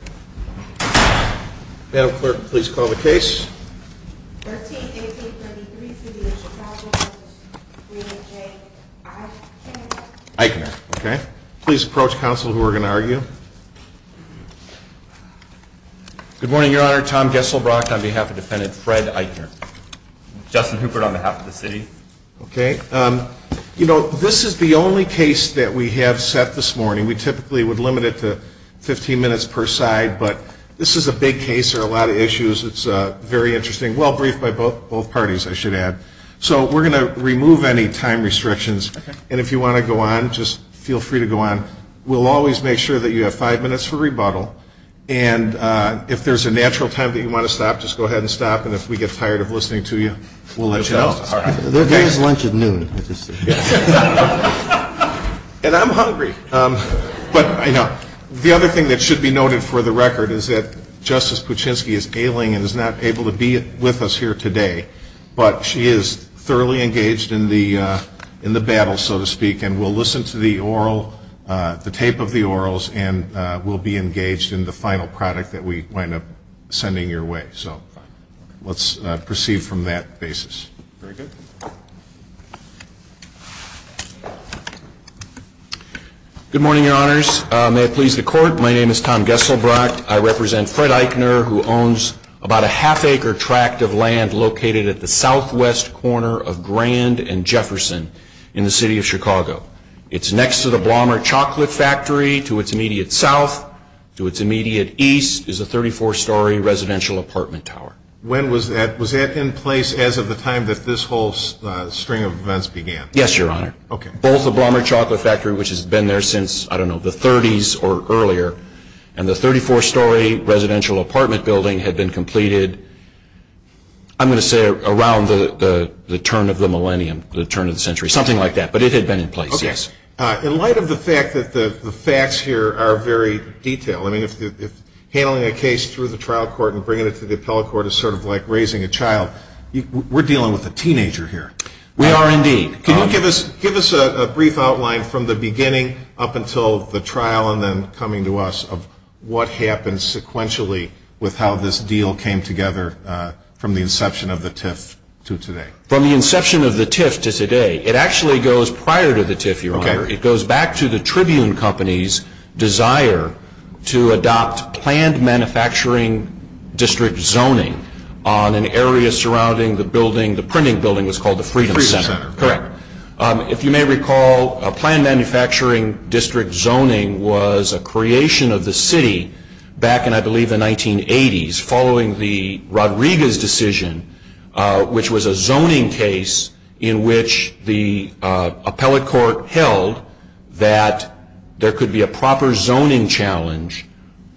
This is the only case that we have set this morning. We typically would limit it to 15 minutes per side, but this is a big case. There are a lot of issues. It's very interesting. Well briefed by both parties, I should add. So we're going to remove any time restrictions. And if you want to go on, just feel free to go on. We'll always make sure that you have five minutes for rebuttal. And if there's a natural time that you want to stop, just go ahead and stop. And if we get tired of listening to you, we'll let you know. The other thing that should be noted for the record is that Justice Kuczynski is ailing and is not able to be with us here today, but she is thoroughly engaged in the battle, so to speak. And we'll listen to the oral, the tape of the orals, and we'll be engaged in the final product that we wind up sending your way. So let's proceed from that basis. Very good. Good morning, Your Honors. May it please the Court, my name is Tom Geselbrot. I represent Fred Eichner, who owns about a half acre tract of land located at the southwest corner of Grand and Jefferson in the city of Chicago. It's next to the Ballmer Chocolate Factory, to its immediate south. To its immediate east is a 34-story residential apartment tower. When was that? Was that in place as of the time that this whole string of events began? Yes, Your Honor. Ballmer Chocolate Factory, which has been there since, I don't know, the 30s or earlier, and the 34-story residential apartment building had been completed, I'm going to say around the turn of the millennium, the turn of the century, something like that. But it had been in place, yes. In light of the fact that the facts here are very detailed, I mean, if handling a case through the trial court and bringing it to the appellate court is sort of like raising a child, we're dealing with a teenager here. We are, indeed. Can you give us a brief outline from the beginning up until the trial and then coming to us of what happened sequentially with how this deal came together from the inception of the TIF to today? From the inception of the TIF to today, it actually goes prior to the TIF, Your Honor. It goes back to the Tribune Company's desire to adopt planned manufacturing district zoning on an area surrounding the building, the printing building, it's called the Freedom Center. Correct. If you may recall, planned manufacturing district zoning was a creation of the city back in, I believe, the 1980s following the Rodriguez decision, which was a zoning case in which the appellate court held that there could be a proper zoning challenge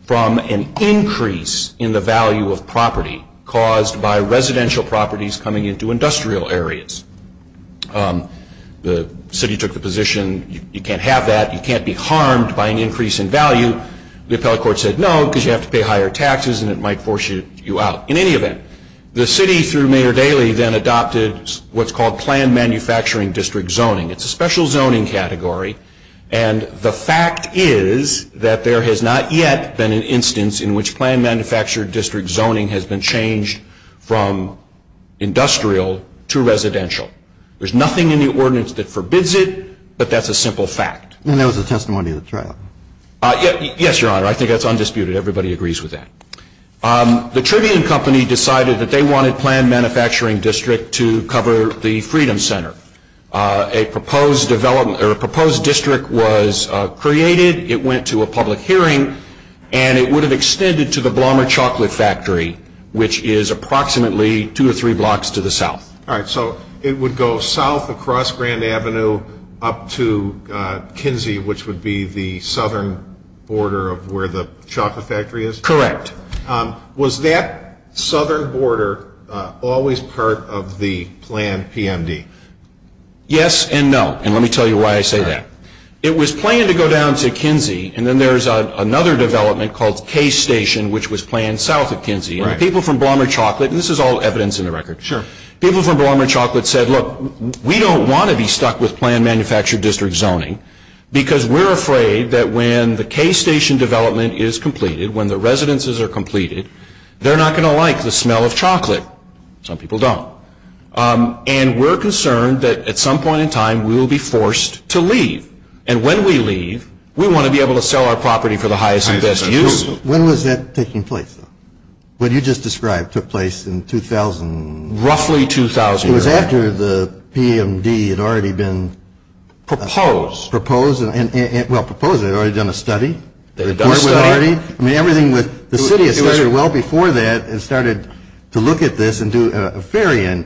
from an increase in the value of property caused by residential properties coming into industrial areas. The city took the position, you can't have that, you can't be harmed by an increase in value. The appellate court said, no, because you have to pay higher taxes and it might force you out. In any event, the city, through Mayor Daley, then adopted what's called planned manufacturing district zoning. It's a special zoning category, and the fact is that there has not yet been an instance in which planned manufactured district zoning has been changed from industrial to residential. There's nothing in the ordinance that forbids it, but that's a simple fact. And that was a testimony to the trial. Yes, Your Honor. I think that's undisputed. Everybody agrees with that. The Tribune Company decided that they wanted planned manufacturing district to cover the Freedom Center. A proposed district was created, it went to a public hearing, and it would have extended to the Blommer Chocolate Factory, which is approximately two or three blocks to the south. All right, so it would go south across Grand Avenue up to Kinsey, which would be the southern border of where the chocolate factory is? Correct. Was that southern border always part of the planned PMD? Yes and no, and let me tell you why I say that. It was planned to go down to Kinsey, and then there's another development called K Station, which was planned south of Kinsey. People from Blommer Chocolate, and this is all evidence in the record, people from Blommer Chocolate said, look, we don't want to be stuck with planned manufactured district zoning because we're afraid that when the K Station development is completed, when the residences are completed, they're not going to like the smell of chocolate. Some people don't. And we're concerned that at some point in time, we will be forced to leave. And when we leave, we want to be able to sell our property for the highest and best use. When was that taking place? What you just described took place in 2000. Roughly 2000. It was after the PMD had already been proposed, well, proposed, they had already done a study. They had done a study? I mean, everything with the city had started well before that and started to look at this and do a very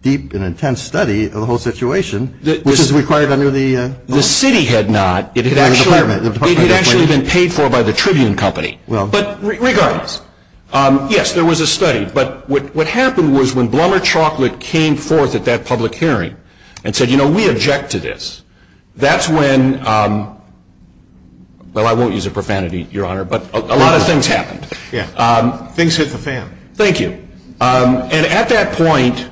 deep and intense study of the whole situation, which is required under the law. The city had not. It had actually been paid for by the Tribune Company. But regardless, yes, there was a study. But what happened was when Blumberg Chocolate came forth at that public hearing and said, you know, we object to this. That's when, well, I won't use a profanity, Your Honor, but a lot of things happened. Things get profound. Thank you. And at that point,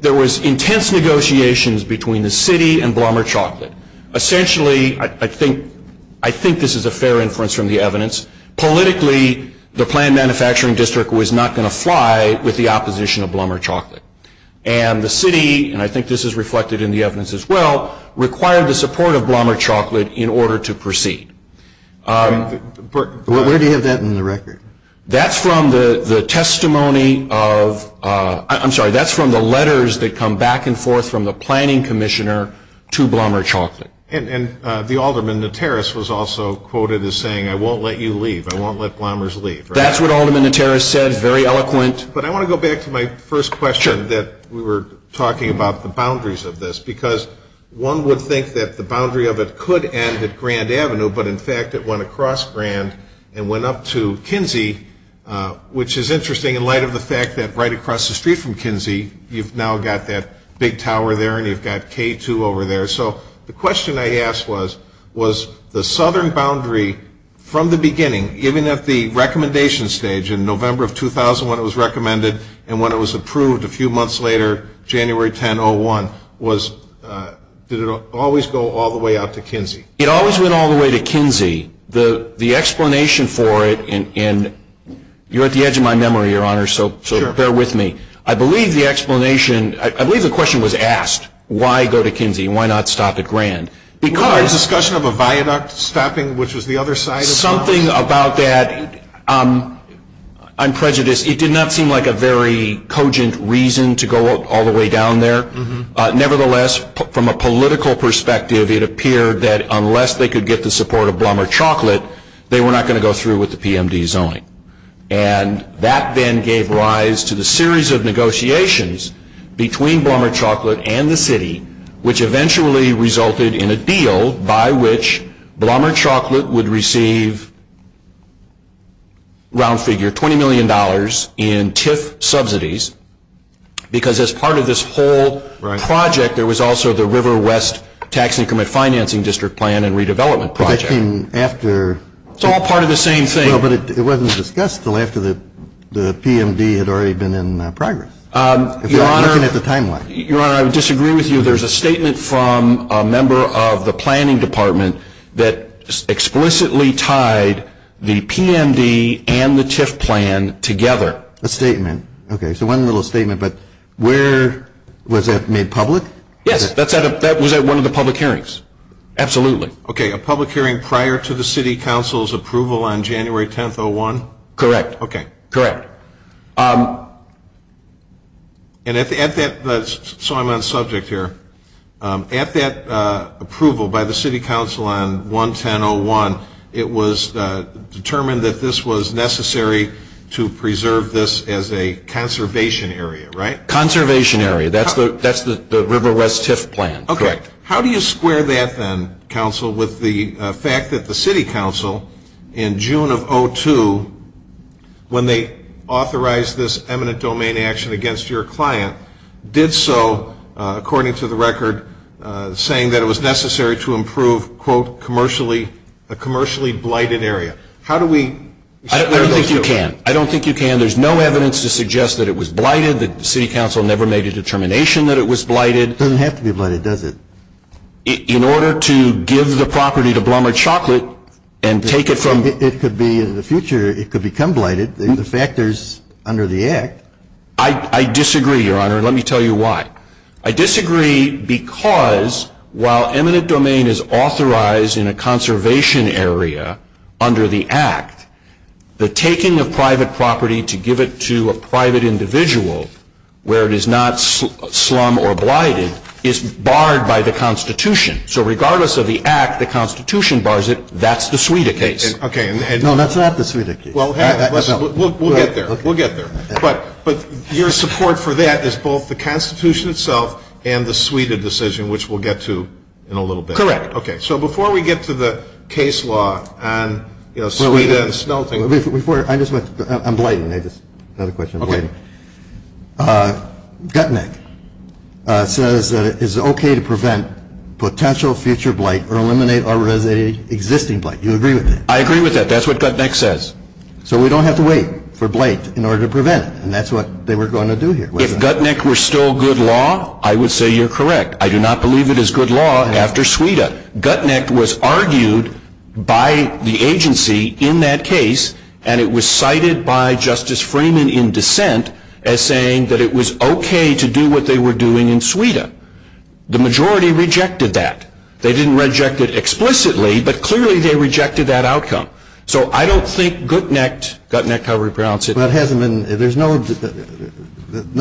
there was intense negotiations between the city and Blumberg Chocolate. Essentially, I think this is a fair inference from the evidence, politically, the planned manufacturing district was not going to fly with the opposition of Blumberg Chocolate. And the city, and I think this is reflected in the evidence as well, required the support of Blumberg Chocolate in order to proceed. Where do you have that in the record? That's from the testimony of, I'm sorry, that's from the letters that come back and forth from the planning commissioner to Blumberg Chocolate. And the alderman, the terrorist, was also quoted as saying, I won't let you leave. I won't let Blumberg's leave. That's what the alderman and the terrorist said. Very eloquent. But I want to go back to my first question that we were talking about the boundaries of this, because one would think that the boundary of it could end at Grand Avenue, but in fact, it went across Grand and went up to Kinsey, which is interesting in light of the fact that right across the street from Kinsey, you've now got that big tower there and you've got K2 over there. So the question I asked was, was the southern boundary from the beginning, given that the recommendation stage in November of 2000 when it was recommended and when it was approved a few months later, January 10, 2001, did it always go all the way out to Kinsey? It always went all the way to Kinsey. The explanation for it, and you're at the edge of my memory, Your Honor, so bear with me. I believe the explanation, I believe the question was asked, why go to Kinsey, why not stop at Grand? It was a discussion of a viaduct stopping, which was the other side as well. Something about that, I'm prejudiced, it did not seem like a very cogent reason to go all the way down there. Nevertheless, from a political perspective, it appeared that unless they could get the support of Blommer Chocolate, they were not going to go through with the PMD zoning. And that then gave rise to the series of negotiations between Blommer Chocolate and the city, which eventually resulted in a deal by which Blommer Chocolate would receive, round figure, $20 million in TIF subsidies, because as part of this whole project, there was also the River West Tax Income and Financing District Plan and Redevelopment Project. It's all part of the same thing. But it wasn't discussed until after the PMD had already been in progress, at the time line. Your Honor, I would disagree with you, there's a statement from a member of the planning department that explicitly tied the PMD and the TIF plan together. A statement. Okay, so one little statement, but where, was that made public? Yes, that was at one of the public hearings. Absolutely. Okay, a public hearing prior to the city council's approval on January 10th, 2001? Correct. Okay. Correct. Okay. And at that, so I'm on subject here, at that approval by the city council on 1-10-0-1, it was determined that this was necessary to preserve this as a conservation area, right? Conservation area, that's the River West TIF plan. Okay. How do you square that then, counsel, with the fact that the city council, in June of 2002, when they authorized this eminent domain action against your client, did so, according to the record, saying that it was necessary to improve, quote, commercially, a commercially blighted area. How do we... I don't think you can. I don't think you can. There's no evidence to suggest that it was blighted, the city council never made a determination that it was blighted. It doesn't have to be blighted, does it? In order to give the property to Blumberg Chocolate and take it from... It could be, in the future, it could become blighted, the fact is, under the act... I disagree, your honor, let me tell you why. I disagree because, while eminent domain is authorized in a conservation area under the act, the taking of private property to give it to a private individual, where it is not by the constitution, so regardless of the act, the constitution bars it, that's the Suida case. No, that's not the Suida case. We'll get there, we'll get there. But your support for that is both the constitution itself and the Suida decision, which we'll get to in a little bit. Correct. Okay, so before we get to the case law on, you know, Suida and the snow thing... I'm blighted, I just had a question, I'm blighted. Gutnick says that it's okay to prevent potential future blight or eliminate already existing blight. Do you agree with that? I agree with that, that's what Gutnick says. So we don't have to wait for blight in order to prevent it, and that's what they were going to do here. If Gutnick were still good law, I would say you're correct. I do not believe it is good law after Suida. Gutnick was argued by the agency in that case, and it was cited by Justice Freeman in dissent as saying that it was okay to do what they were doing in Suida. The majority rejected that. They didn't reject it explicitly, but clearly they rejected that outcome. So I don't think Gutnick, Gutnick, Howard, Brown said... But it hasn't been, there's no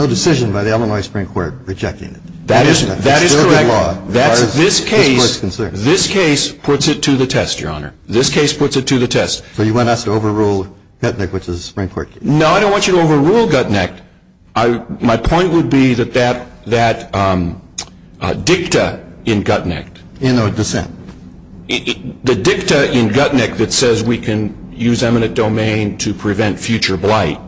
decision by the Illinois Supreme Court rejecting it. That is correct. That is good law. This case, this case puts it to the test, Your Honor. This case puts it to the test. So you want us to overrule Gutnick with the Supreme Court? No, I don't want you to overrule Gutnick. My point would be that that dicta in Gutnick, the dicta in Gutnick that says we can use eminent domain to prevent future blight,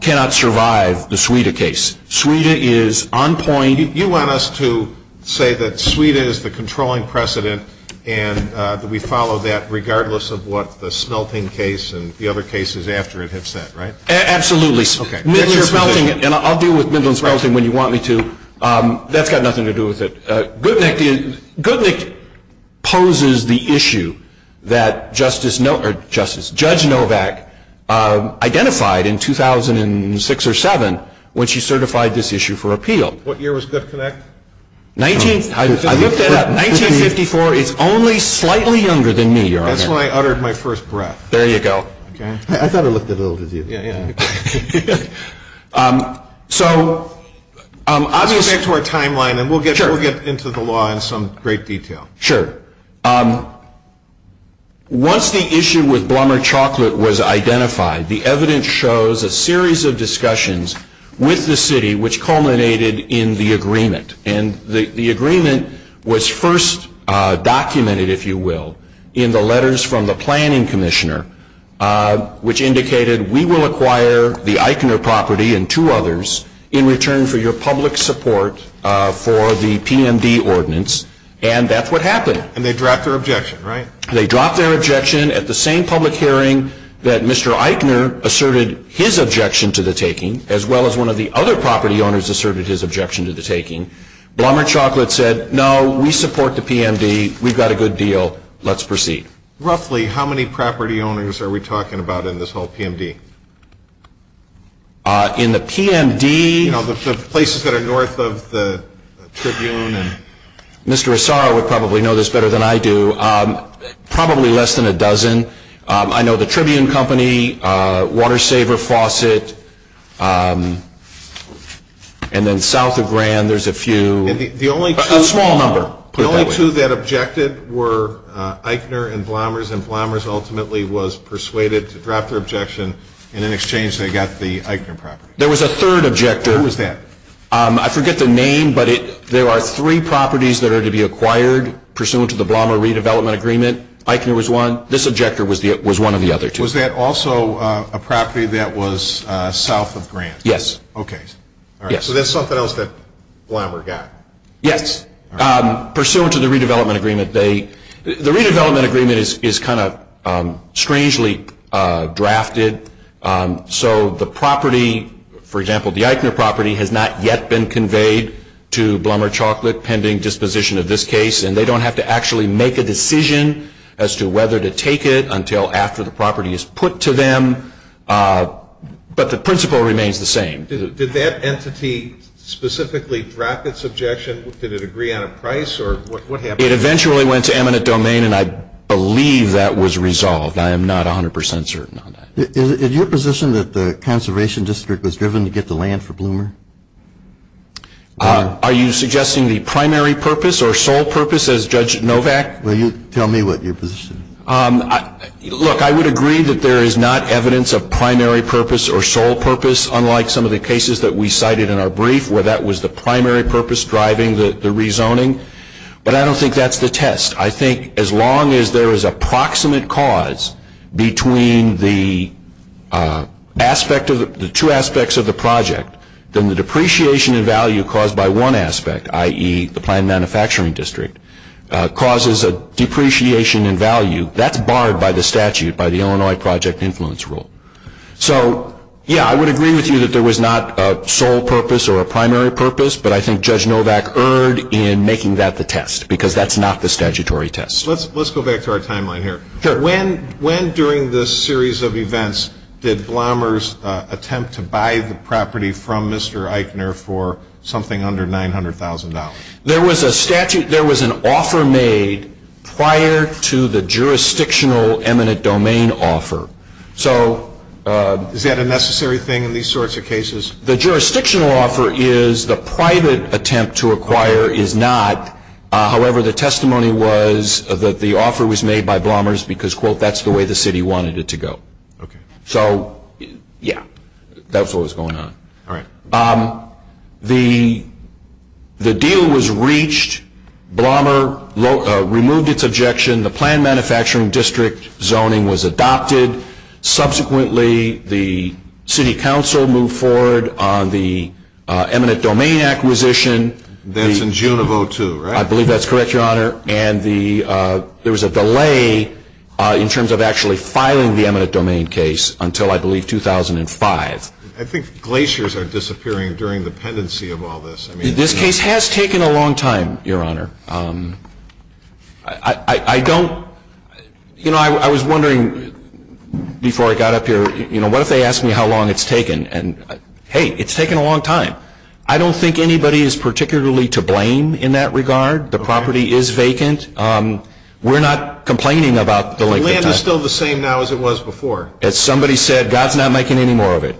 cannot survive the Suida case. Suida is on point... You want us to say that Suida is the controlling precedent and that we follow that regardless of what the Smelting case and the other cases after it have said, right? Absolutely. I'll deal with Midland Smelting when you want me to, that's got nothing to do with it. Gutnick poses the issue that Judge Novak identified in 2006 or 2007 when she certified this issue for appeal. What year was Good Connect? 1954. 1954. It's only slightly younger than me, Your Honor. That's why I uttered my first breath. There you go. I thought it looked as old as you. So, I'll just get to our timeline and we'll get into the law in some great detail. Sure. Once the issue with Blumberg Chocolate was identified, the evidence shows a series of discussions with the city which culminated in the agreement. The agreement was first documented, if you will, in the letters from the Planning Commissioner which indicated, we will acquire the Eichner property and two others in return for your public support for the PMD ordinance and that's what happened. They dropped their objection, right? They dropped their objection at the same public hearing that Mr. Eichner asserted his objection to the taking as well as one of the other property owners asserted his objection to the taking. Blumberg Chocolate said, no, we support the PMD, we've got a good deal. Let's proceed. Roughly, how many property owners are we talking about in this whole PMD? In the PMD... You know, the places that are north of the Tribune and... Mr. Asaro would probably know this better than I do. Probably less than a dozen. I know the Tribune Company, Water Saver Faucet, and then south of Grand, there's a few... The only two... A small number. The only two that objected were Eichner and Blumbers and Blumbers ultimately was persuaded to drop their objection and in exchange they got the Eichner property. There was a third objector. Who was that? I forget the name, but there are three properties that are to be acquired pursuant to the Blumber redevelopment agreement. Eichner was one. This objector was one of the other two. Was that also a property that was south of Grand? Yes. Okay. So that's something else that Blumber got. Yes. Pursuant to the redevelopment agreement, the redevelopment agreement is kind of strangely drafted, so the property, for example, the Eichner property has not yet been conveyed to Blumber Chocolate pending disposition of this case and they don't have to actually make a decision as to whether to take it until after the property is put to them, but the principle remains the same. Did that entity specifically draft its objection? Did it agree on a price or what happened? It eventually went to eminent domain and I believe that was resolved. I am not 100% certain on that. Is your position that the conservation district was driven to get the land for Blumber? Are you suggesting the primary purpose or sole purpose as Judge Novak? Will you tell me what your position is? Look, I would agree that there is not evidence of primary purpose or sole purpose, unlike some of the cases that we cited in our brief where that was the primary purpose driving the rezoning, but I don't think that's the test. I think as long as there is a proximate cause between the two aspects of the project, the depreciation in value caused by one aspect, i.e., the prime manufacturing district, causes a depreciation in value, that's barred by the statute, by the Illinois Project Influence Rule. So, yeah, I would agree with you that there was not a sole purpose or a primary purpose, but I think Judge Novak erred in making that the test because that's not the statutory test. Let's go back to our timeline here. When, during this series of events, did Blumber's attempt to buy the property from Mr. Eichner for something under $900,000? There was a statute, there was an offer made prior to the jurisdictional eminent domain offer. Is that a necessary thing in these sorts of cases? The jurisdictional offer is the private attempt to acquire is not, however, the testimony was that the offer was made by Blumber's because, quote, that's the way the city wanted it to go. Okay. So, yeah. That's what was going on. All right. The deal was reached, Blumber removed its objection, the planned manufacturing district zoning was adopted, subsequently the city council moved forward on the eminent domain acquisition. That's in June of 2002, right? I believe that's correct, Your Honor, and there was a delay in terms of actually filing the eminent domain case until, I believe, 2005. I think glaciers are disappearing during the pendency of all this. This case has taken a long time, Your Honor. I don't, you know, I was wondering before I got up here, you know, what if they asked me how long it's taken and, hey, it's taken a long time. I don't think anybody is particularly to blame in that regard. The property is vacant. We're not complaining about the length of time. The land is still the same now as it was before. Somebody said, God's not making any more of it.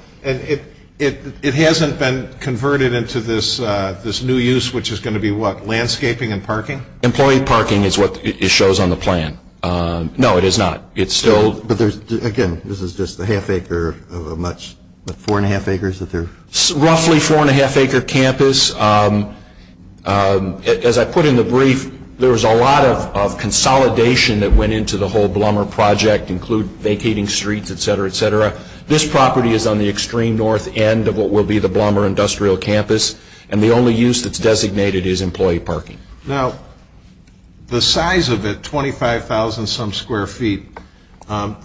It hasn't been converted into this new use, which is going to be what, landscaping and parking? Employee parking is what it shows on the plan. No, it is not. It's still... But there's, again, this is just a half acre of a much, four and a half acres that they're... Roughly four and a half acre campus. As I put in the brief, there's a lot of consolidation that went into the whole Blommer project, include vacating streets, et cetera, et cetera. This property is on the extreme north end of what will be the Blommer Industrial Campus, and the only use that's designated is employee parking. Now, the size of it, 25,000 some square feet,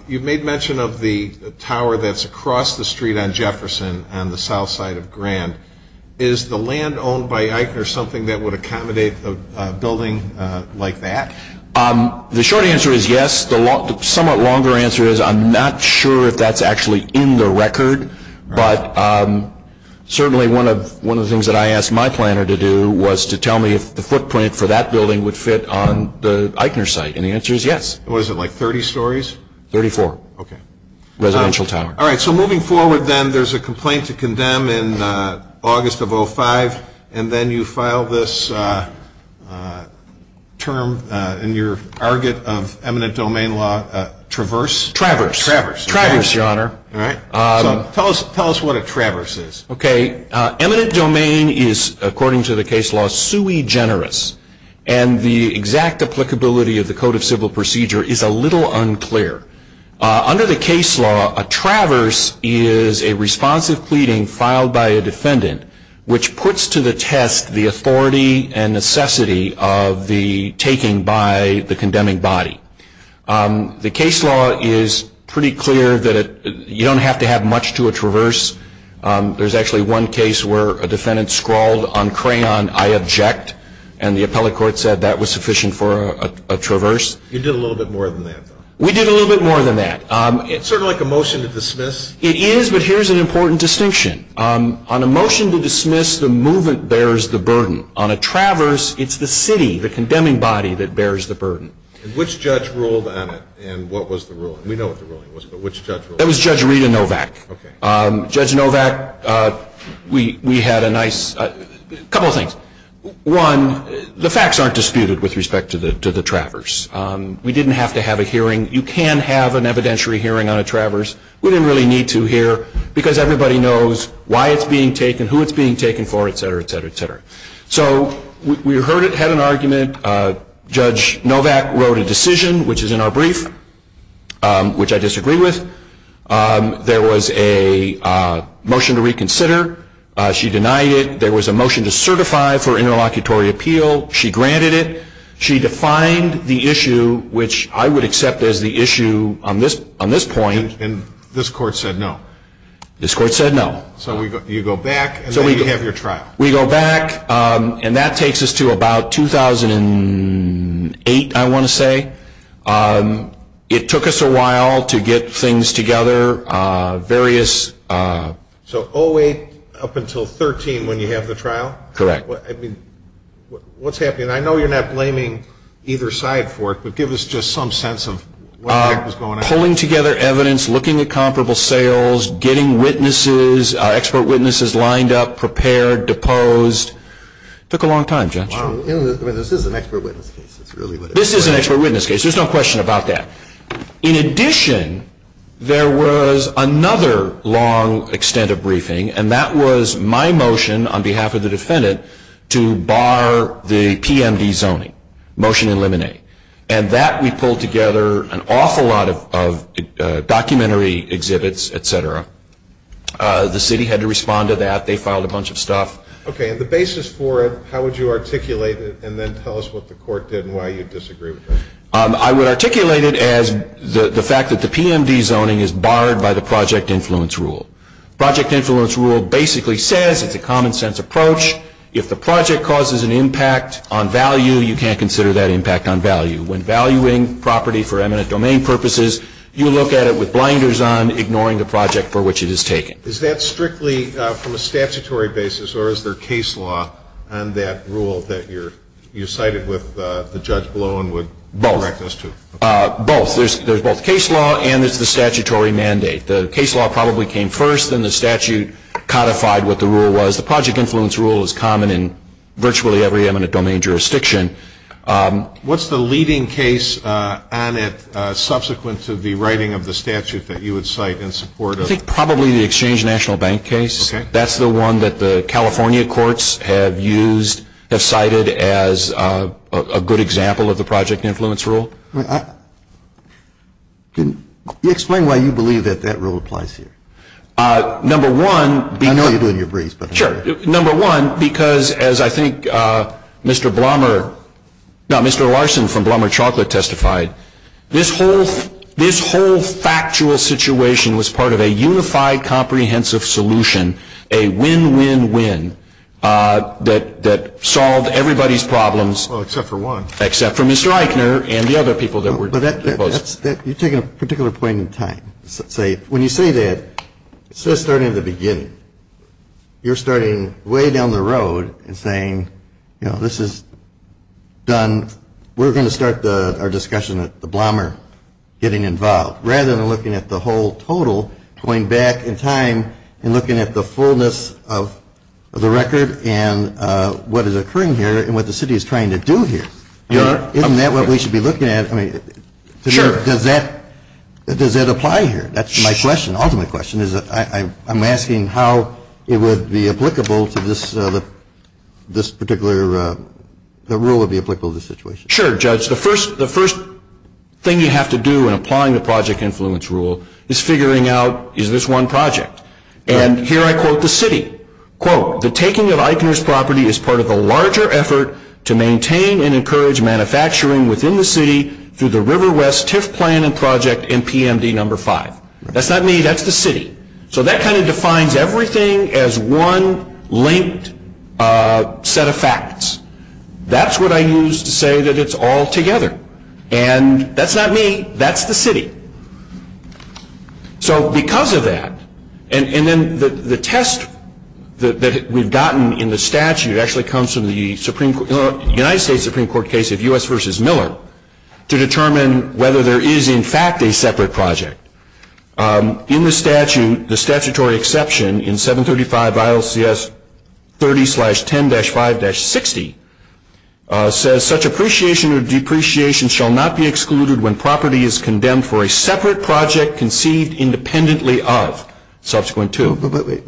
you've made mention of the tower that's across the street on Jefferson, on the south side of Grand. Is the land owned by Eichner something that would accommodate a building like that? The short answer is yes. The somewhat longer answer is I'm not sure if that's actually in the record, but certainly one of the things that I asked my planner to do was to tell me if the footprint for that building would fit on the Eichner site, and the answer is yes. What is it, like 30 stories? 34. Okay. Residential tower. All right. So, moving forward then, there's a complaint to condemn in August of 2005, and then you file this term in your target of eminent domain law, traverse? Traverse. Traverse. Traverse, your honor. All right. Tell us what a traverse is. Okay. Eminent domain is, according to the case law, sui generis, and the exact applicability of the Code of Civil Procedure is a little unclear. Under the case law, a traverse is a responsive pleading filed by a defendant which puts to the test the authority and necessity of the taking by the condemning body. The case law is pretty clear that you don't have to have much to a traverse. There's actually one case where a defendant scrawled on crayon, I object, and the appellate court said that was sufficient for a traverse. You did a little bit more than that, though. We did a little bit more than that. It's sort of like a motion to dismiss? It is, but here's an important distinction. On a motion to dismiss, the movement bears the burden. On a traverse, it's the city, the condemning body, that bears the burden. Which judge ruled on it, and what was the ruling? We know what the ruling was, but which judge ruled on it? It was Judge Rita Novak. Judge Novak, we had a nice, a couple of things. One, the facts aren't disputed with respect to the traverse. We didn't have to have a hearing. You can have an evidentiary hearing on a traverse. We didn't really need to hear, because everybody knows why it's being taken, who it's being taken for, et cetera, et cetera, et cetera. So we heard it, had an argument. Judge Novak wrote a decision, which is in our brief, which I disagree with. There was a motion to reconsider. She denied it. There was a motion to certify for interlocutory appeal. She granted it. She defined the issue, which I would accept as the issue on this point. This court said no? This court said no. So you go back, and then you have your trial? We go back, and that takes us to about 2008, I want to say. It took us a while to get things together, various... So all the way up until 13, when you have the trial? Correct. What's happening? I know you're not blaming either side for it, but give us just some sense of what was going on. Pulling together evidence, looking at comparable sales, getting witnesses, expert witnesses lined up, prepared, deposed. Took a long time, Judge. Well, this is an expert witness case. This is an expert witness case. There's no question about that. In addition, there was another long extent of briefing, and that was my motion on behalf of the defendant to bar the PMD zoning, Motion to Eliminate. And that we pulled together an awful lot of documentary exhibits, etc. The city had to respond to that. They filed a bunch of stuff. Okay, and the basis for it, how would you articulate it, and then tell us what the court did and why you disagreed with it? I would articulate it as the fact that the PMD zoning is barred by the Project Influence Rule. Project Influence Rule basically says, it's a common-sense approach, if the project causes an impact on value, you can't consider that impact on value. When valuing property for eminent domain purposes, you look at it with blinders on, ignoring the project for which it is taken. Is that strictly from a statutory basis, or is there case law on that rule that you cited with the judge below and would correct us to? Both. There's both case law and there's the statutory mandate. The case law probably came first, then the statute codified what the rule was. The Project Influence Rule is common in virtually every eminent domain jurisdiction. What's the leading case on it, subsequent to the writing of the statute that you would cite in support of? I think probably the Exchange National Bank case. That's the one that the California courts have used, have cited as a good example of the Project Influence Rule. Can you explain why you believe that that rule applies here? Number one, because as I think Mr. Larson from Blumberg Chocolate testified, this whole factual situation was part of a unified comprehensive solution, a win-win-win that solved everybody's problems. Except for one. And the other people that we're talking about. You're taking a particular point in time. When you say that, it says starting at the beginning. You're starting way down the road and saying, we're going to start our discussion at the Blumberg getting involved, rather than looking at the whole total, going back in time and looking at the fullness of the record and what is occurring here and what the city is trying to do here. Isn't that what we should be looking at? Sure. Does that apply here? That's my question. Ultimately, my question is that I'm asking how it would be applicable to this particular rule. Sure, Judge. The first thing you have to do when applying the Project Influence Rule is figuring out is this one project? And here I quote the city, quote, the taking of IPM's property is part of a larger effort to maintain and encourage manufacturing within the city through the River West TIF plan and project MPMD number five. That's not me. That's the city. So that kind of defines everything as one linked set of facts. That's what I use to say that it's all together. And that's not me. That's the city. So because of that, and then the test that we've gotten in the statute actually comes from the United States Supreme Court case of U.S. versus Miller to determine whether there is, in fact, a separate project. In the statute, the statutory exception in 735 ILCS 30-10-5-60 says such appreciation or depreciation shall not be excluded when property is condemned for a separate project conceived independently of subsequent to.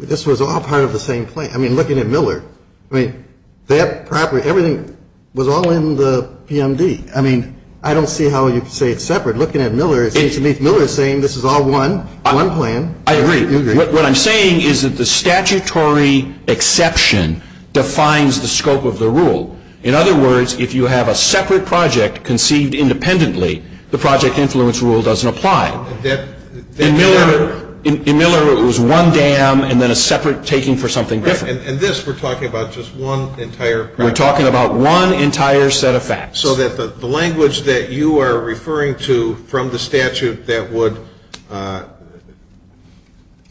This was all part of the same thing. I mean, looking at Miller, I mean, that property, everything was all in the PMD. I mean, I don't see how you could say it's separate. Looking at Miller, it seems to me Miller is saying this is all one, one plan. I agree. What I'm saying is that the statutory exception defines the scope of the rule. In other words, if you have a separate project conceived independently, the project influence rule doesn't apply. In Miller, it was one dam and then a separate taking for something different. And this, we're talking about just one entire project. We're talking about one entire set of facts. So that the language that you are referring to from the statute that would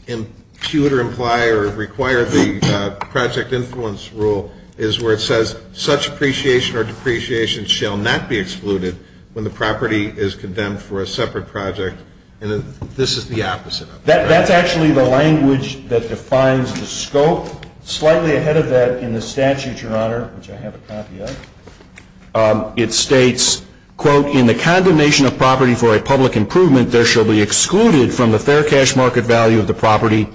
impute or imply or require the project influence rule is where it says such appreciation or depreciation shall not be excluded when the property is condemned for a separate project. And this is the opposite of that. That's actually the language that defines the scope. Slightly ahead of that in the statute, Your Honor, which I have a copy of, it states, quote, in the condemnation of property for a public improvement, there shall be excluded from the fair cash market value of the property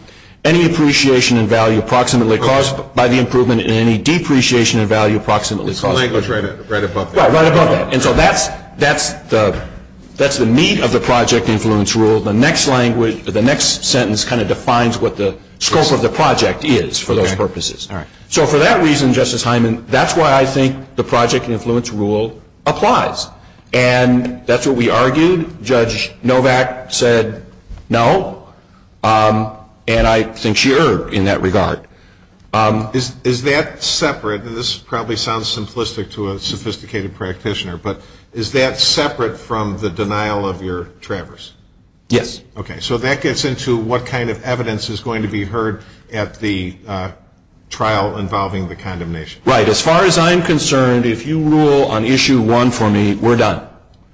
any appreciation in value approximately caused by the improvement in any depreciation in value approximately. Language right above that. Right above that. And so that's the meat of the project influence rule. The next sentence kind of defines what the scope of the project is for those purposes. So for that reason, Justice Hyman, that's why I think the project influence rule applies. And that's what we argued. Judge Novak said no. And I think she erred in that regard. Is that separate? And this probably sounds simplistic to a sophisticated practitioner. But is that separate from the denial of your traverse? Yes. Okay. So that gets into what kind of evidence is going to be heard at the trial involving the condemnation. Right. As far as I'm concerned, if you rule on issue one for me, we're done.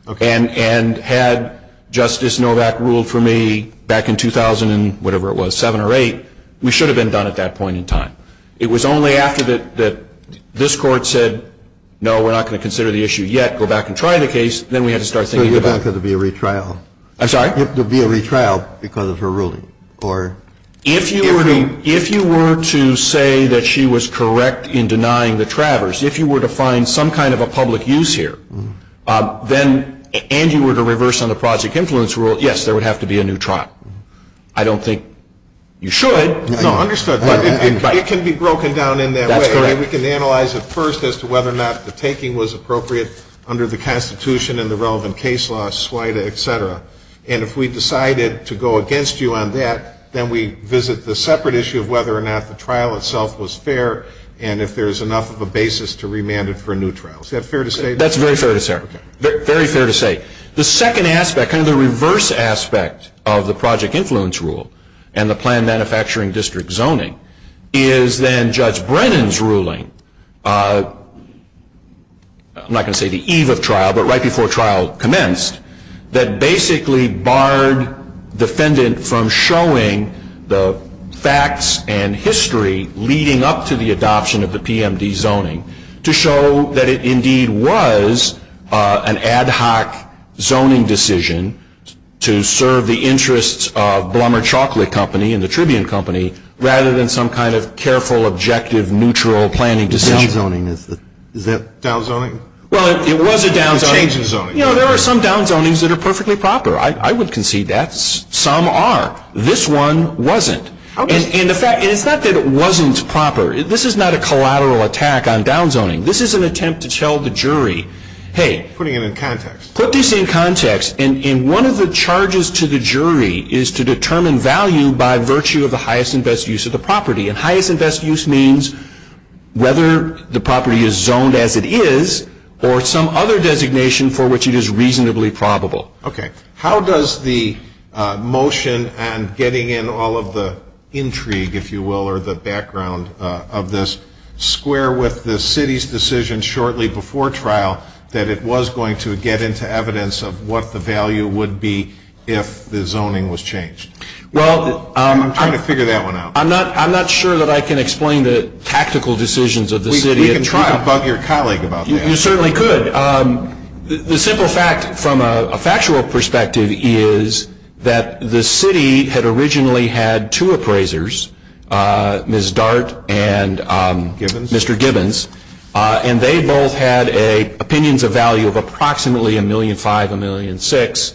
Okay. And had Justice Novak ruled for me back in 2000, whatever it was, seven or eight, we should have been done at that point in time. It was only after that this court said, no, we're not going to consider the issue yet. Go back and try the case. Then we had to start thinking about it. So you're back for there to be a retrial? I'm sorry? There to be a retrial because of her ruling or? If you were to say that she was correct in denying the traverse, if you were to find some kind of a public use here, then and you were to reverse on the project influence rule, yes, there would have to be a new trial. I don't think you should. No, understood. It can be broken down in that way. We can analyze it first as to whether or not the taking was appropriate under the Constitution and the relevant case law, slida, etc. And if we decided to go against you on that, then we visit the separate issue of whether or not the trial itself was fair and if there's enough of a basis to remand it for a new trial. Is that fair to say? That's very fair to say. Very fair to say. The second aspect, kind of the reverse aspect of the project influence rule and the planned manufacturing district zoning is then Judge Brennan's ruling, I'm not going to say the eve of trial, but right before trial commenced, that basically barred defendant from showing the facts and history leading up to the adoption of the PMD zoning to show that it indeed was an ad hoc zoning decision to serve the interests of Blumberg Chocolate Company and the Tribune Company rather than some kind of careful, objective, neutral planning decision. Downzoning is it? Downzoning? Well, it was a downzoning. You know, there are some downzonings that are perfectly proper. I would concede that. Some are. This one wasn't. And the fact, it's not that it wasn't proper. This is not a collateral attack on downzoning. This is an attempt to tell the jury, hey. Putting it in context. Put this in context. And one of the charges to the jury is to determine value by virtue of the highest and best use of the property. And highest and best use means whether the property is zoned as it is or some other designation for which it is reasonably probable. Okay. How does the motion and getting in all of the intrigue, if you will, or the background of this square with the city's decision shortly before trial that it was going to get into evidence of what the value would be if the zoning was changed? Well, I'm trying to figure that one out. I'm not sure that I can explain the tactical decisions of the city. You can try to bug your colleague about that. You certainly could. The simple fact from a factual perspective is that the city had originally had two appraisers, Ms. Dart and Mr. Gibbons. And they both had opinions of value of approximately a million five, a million six,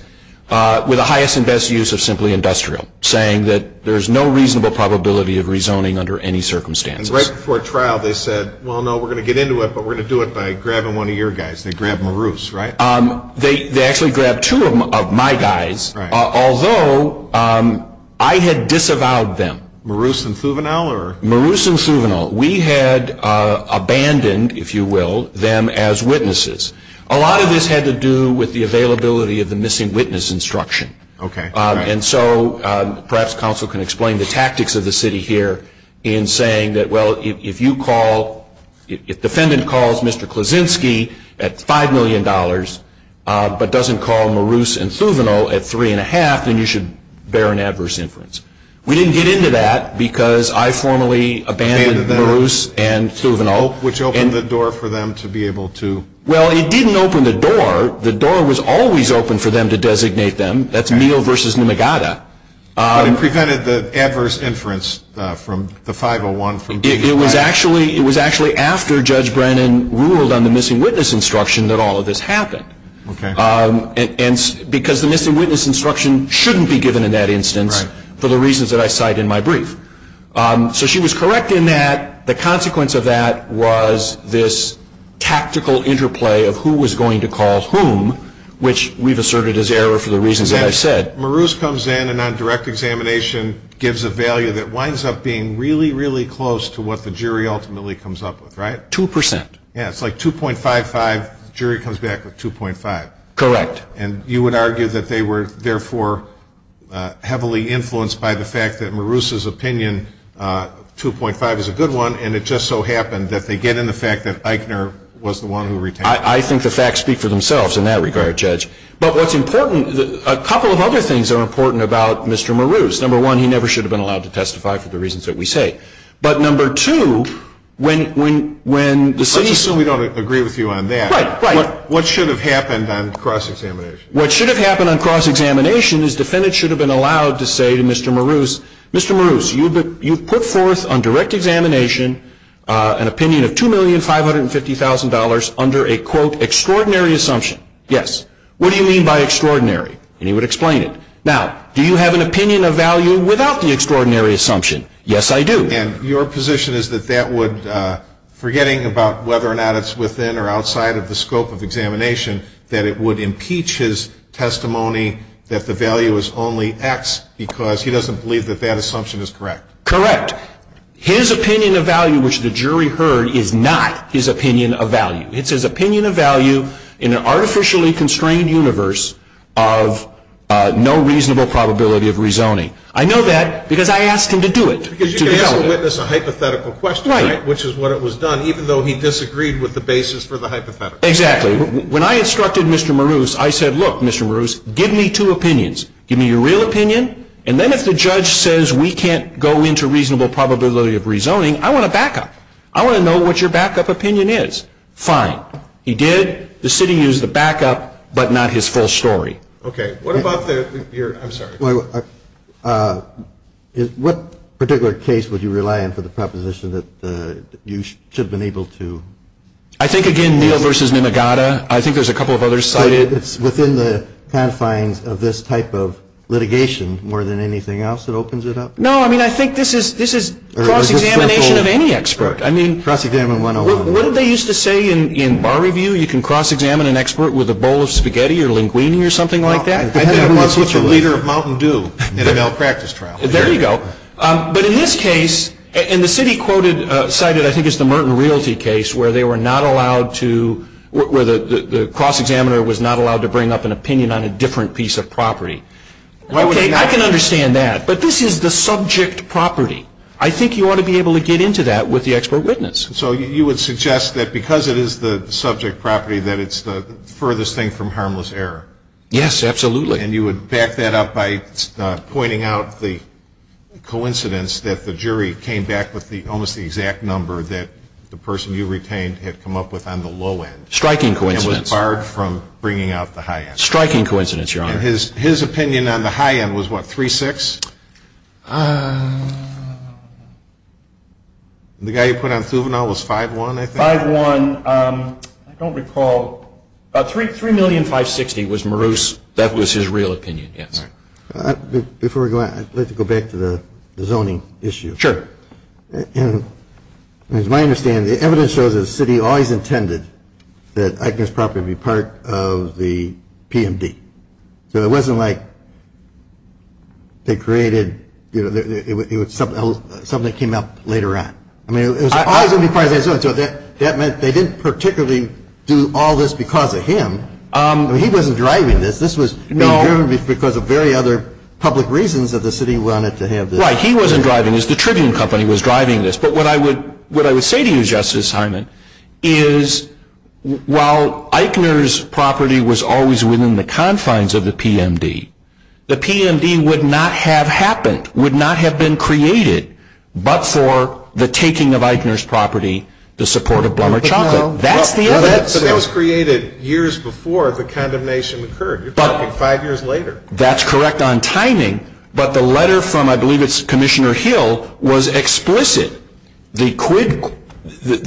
with the highest and best use of simply industrial, saying that there's no reasonable probability of rezoning under any circumstances. Right before trial, they said, well, no, we're going to get into it, but we're going to do it by grabbing one of your guys. They grabbed Maroos, right? They actually grabbed two of my guys, although I had disavowed them. Maroos and Suvinole, or? Maroos and Suvinole. We had abandoned, if you will, them as witnesses. A lot of this had to do with the availability of the missing witness instruction. Okay. If the defendant calls Mr. Klozinski at $5 million, but doesn't call Maroos and Suvinole at three and a half, then you should bear an adverse inference. We didn't get into that because I formally abandoned Maroos and Suvinole. Which opened the door for them to be able to? Well, it didn't open the door. The door was always open for them to designate them. That's Meehl versus Numagata. You prevented the adverse inference from the 501 from being used by? It was actually after Judge Brennan ruled on the missing witness instruction that all of this happened. Okay. Because the missing witness instruction shouldn't be given in that instance for the reasons that I cite in my brief. So she was correct in that the consequence of that was this tactical interplay of who was going to call whom, which we've asserted as error for the reasons that I said. Maroos comes in and on direct examination gives a value that winds up being really, really close to what the jury ultimately comes up with, right? Two percent. Yeah, it's like 2.55, jury comes back with 2.5. Correct. And you would argue that they were, therefore, heavily influenced by the fact that Maroos' opinion, 2.5 is a good one, and it just so happened that they get into the fact that Eichner was the one who retained them. I think the facts speak for themselves in that regard, Judge. But what's important, a couple of other things are important about Mr. Maroos. Number one, he never should have been allowed to testify for the reasons that we say. But number two, when the city... I assume we don't agree with you on that. Right, right. What should have happened on cross-examination? What should have happened on cross-examination is defendants should have been allowed to say to Mr. Maroos, Mr. Maroos, you put forth on direct examination an opinion of $2,550,000 under a, quote, extraordinary assumption. Yes. What do you mean by extraordinary? And he would explain it. Now, do you have an opinion of value without the extraordinary assumption? Yes, I do. And your position is that that would, forgetting about whether or not it's within or outside of the scope of examination, that it would impeach his testimony that the value was only X because he doesn't believe that that assumption is correct. Correct. His opinion of value, which the jury heard, is not his opinion of value. It's his opinion of value in an artificially constrained universe of no reasonable probability of rezoning. I know that because I asked him to do it. Because you didn't have to witness a hypothetical question, which is what it was done, even though he disagreed with the basis for the hypothetical. Exactly. When I instructed Mr. Maroos, I said, look, Mr. Maroos, give me two opinions. Give me your real opinion, and then if the judge says we can't go into reasonable probability of rezoning, I want a backup. I want to know what your backup opinion is. Fine. He did. The city used the backup, but not his full story. Okay. What about the, here, I'm sorry. What particular case would you rely on for the proposition that you should have been able to? I think, again, Neal versus Nimigata. I think there's a couple of other sites. It's within the confines of this type of litigation more than anything else that opens it up? No, I mean, I think this is cross-examination of any expert. I mean, what did they used to say in Bar Review? You can cross-examine an expert with a bowl of spaghetti or linguine or something like that? And that was what your leader of Mountain Dew did at a malpractice trial. There you go. But in this case, and the city quoted, cited, I think it's the Merton Realty case, where they were not allowed to, where the cross-examiner was not allowed to bring up an opinion on a different piece of property. Okay, I can understand that, but this is the subject property. I think you ought to be able to get into that with the expert witness. So you would suggest that because it is the subject property that it's the furthest thing from harmless error? Yes, absolutely. And you would back that up by pointing out the coincidence that the jury came back with almost the exact number that the person you retained had come up with on the low end? Striking coincidence. And was barred from bringing out the high end? Striking coincidence, Your Honor. His opinion on the high end was what, 3-6? The guy you put on Suvinole was 5-1, I think? 5-1. I don't recall. 3,560,000 was Marouse. That was his real opinion, yes. Before we go on, let's go back to the zoning issue. Sure. And as my understanding, the evidence shows that the city always intended that Agnes property be part of the PMD. So it wasn't like they created, you know, something that came up later on. I mean, it was always going to be part of that zoning. That meant they didn't particularly do all this because of him. He wasn't driving this. This was driven because of very other public reasons that the city wanted to have this. Right, he wasn't driving this. The Tribune Company was driving this. But what I would say to you, Justice Hyman, is while Eichner's property was always within the confines of the PMD, the PMD would not have happened, would not have been created, but for the taking of Eichner's property to support of Blomer Chocolate. That's the evidence. So that was created years before the condemnation occurred. You're talking five years later. That's correct on timing. But the letter from, I believe it's Commissioner Hill, was explicit. The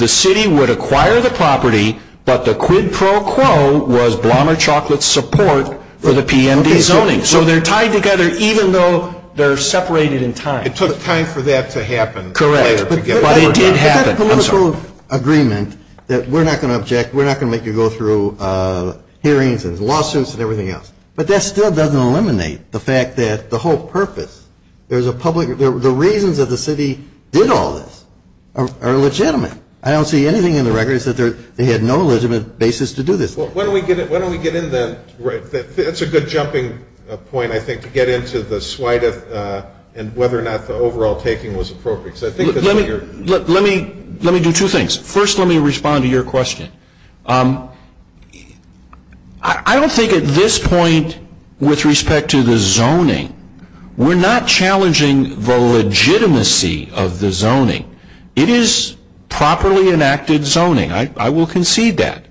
city would acquire the property, but the quid pro quo was Blomer Chocolate's support for the PMD zoning. So they're tied together even though they're separated in time. It took time for that to happen. Correct, but it did happen. There's a political agreement that we're not going to object, we're not going to make you go through hearings and lawsuits and everything else. But that still doesn't eliminate the fact that the whole purpose, there's a public, the reasons that the city did all this are legitimate. I don't see anything in the records that they had no legitimate basis to do this. Well, why don't we get into that? That's a good jumping point, I think, to get into the swide of whether or not the overall taking was appropriate. So I think that's what you're. Let me do two things. First, let me respond to your question. I don't think at this point with respect to the zoning, we're not challenging the legitimacy of the zoning. It is properly enacted zoning. I will concede that.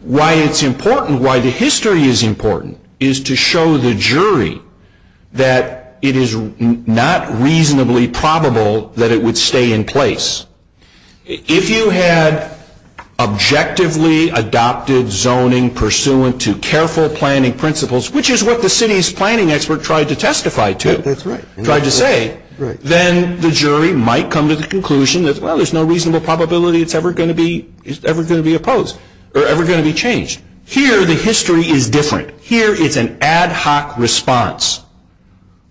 Why it's important, why the history is important is to show the jury that it is not reasonably probable that it would stay in place. If you had objectively adopted zoning pursuant to careful planning principles, which is what the city's planning expert tried to testify to, tried to say, then the jury might come to the conclusion that, well, there's no reasonable probability it's ever going to be opposed or ever going to be changed. Here, the history is different. Here is an ad hoc response.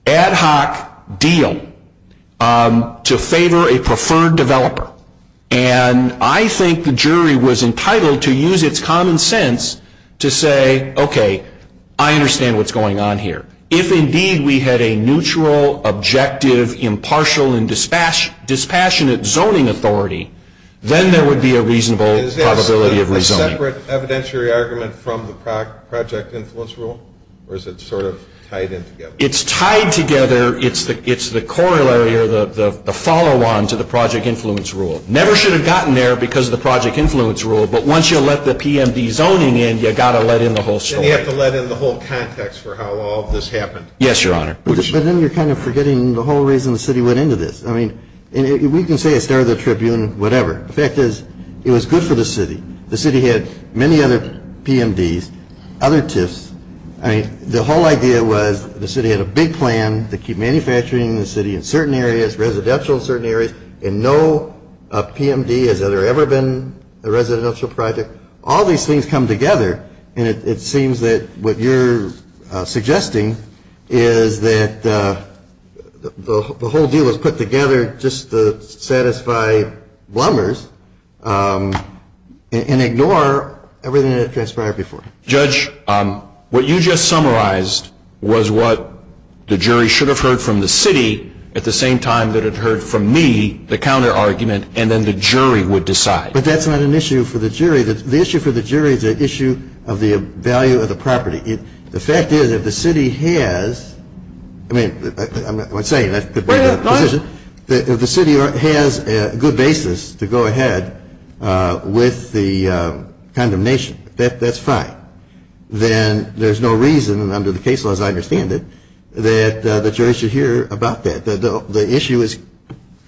Ad hoc deal to favor a preferred developer. And I think the jury was entitled to use its common sense to say, okay, I understand what's going on here. If indeed we had a neutral, objective, impartial, and dispassionate zoning authority, then there would be a reasonable probability of rezoning. Is there a separate evidentiary argument from the project influence rule? Or is it sort of tied in together? It's tied together. It's the corollary or the follow-on to the project influence rule. Never should have gotten there because of the project influence rule, but once you let the PMD zoning in, you got to let in the whole story. And you have to let in the whole context for how all this happened. Yes, Your Honor. But then you're kind of forgetting the whole reason the city went into this. I mean, we can say it's there in the Tribune, whatever. The fact is, it was good for the city. The city had many other PMDs, other TIFs. I mean, the whole idea was the city had a big plan. They keep manufacturing the city in certain areas, residential in certain areas, and no PMD has ever been a residential project. All these things come together. And it seems that what you're suggesting is that the whole deal was put together just to satisfy blunders and ignore everything that transpired before. Judge, what you just summarized was what the jury should have heard from the city at the same time that it heard from me the counter-argument, and then the jury would decide. But that's not an issue for the jury. The issue for the jury is the issue of the value of the property. The fact is, if the city has, I mean, I'm not saying that's the better position, but if the city has a good basis to go ahead with the condemnation, that's fine. Then there's no reason, and under the case laws I understand it, that the jury should hear about that. The issue is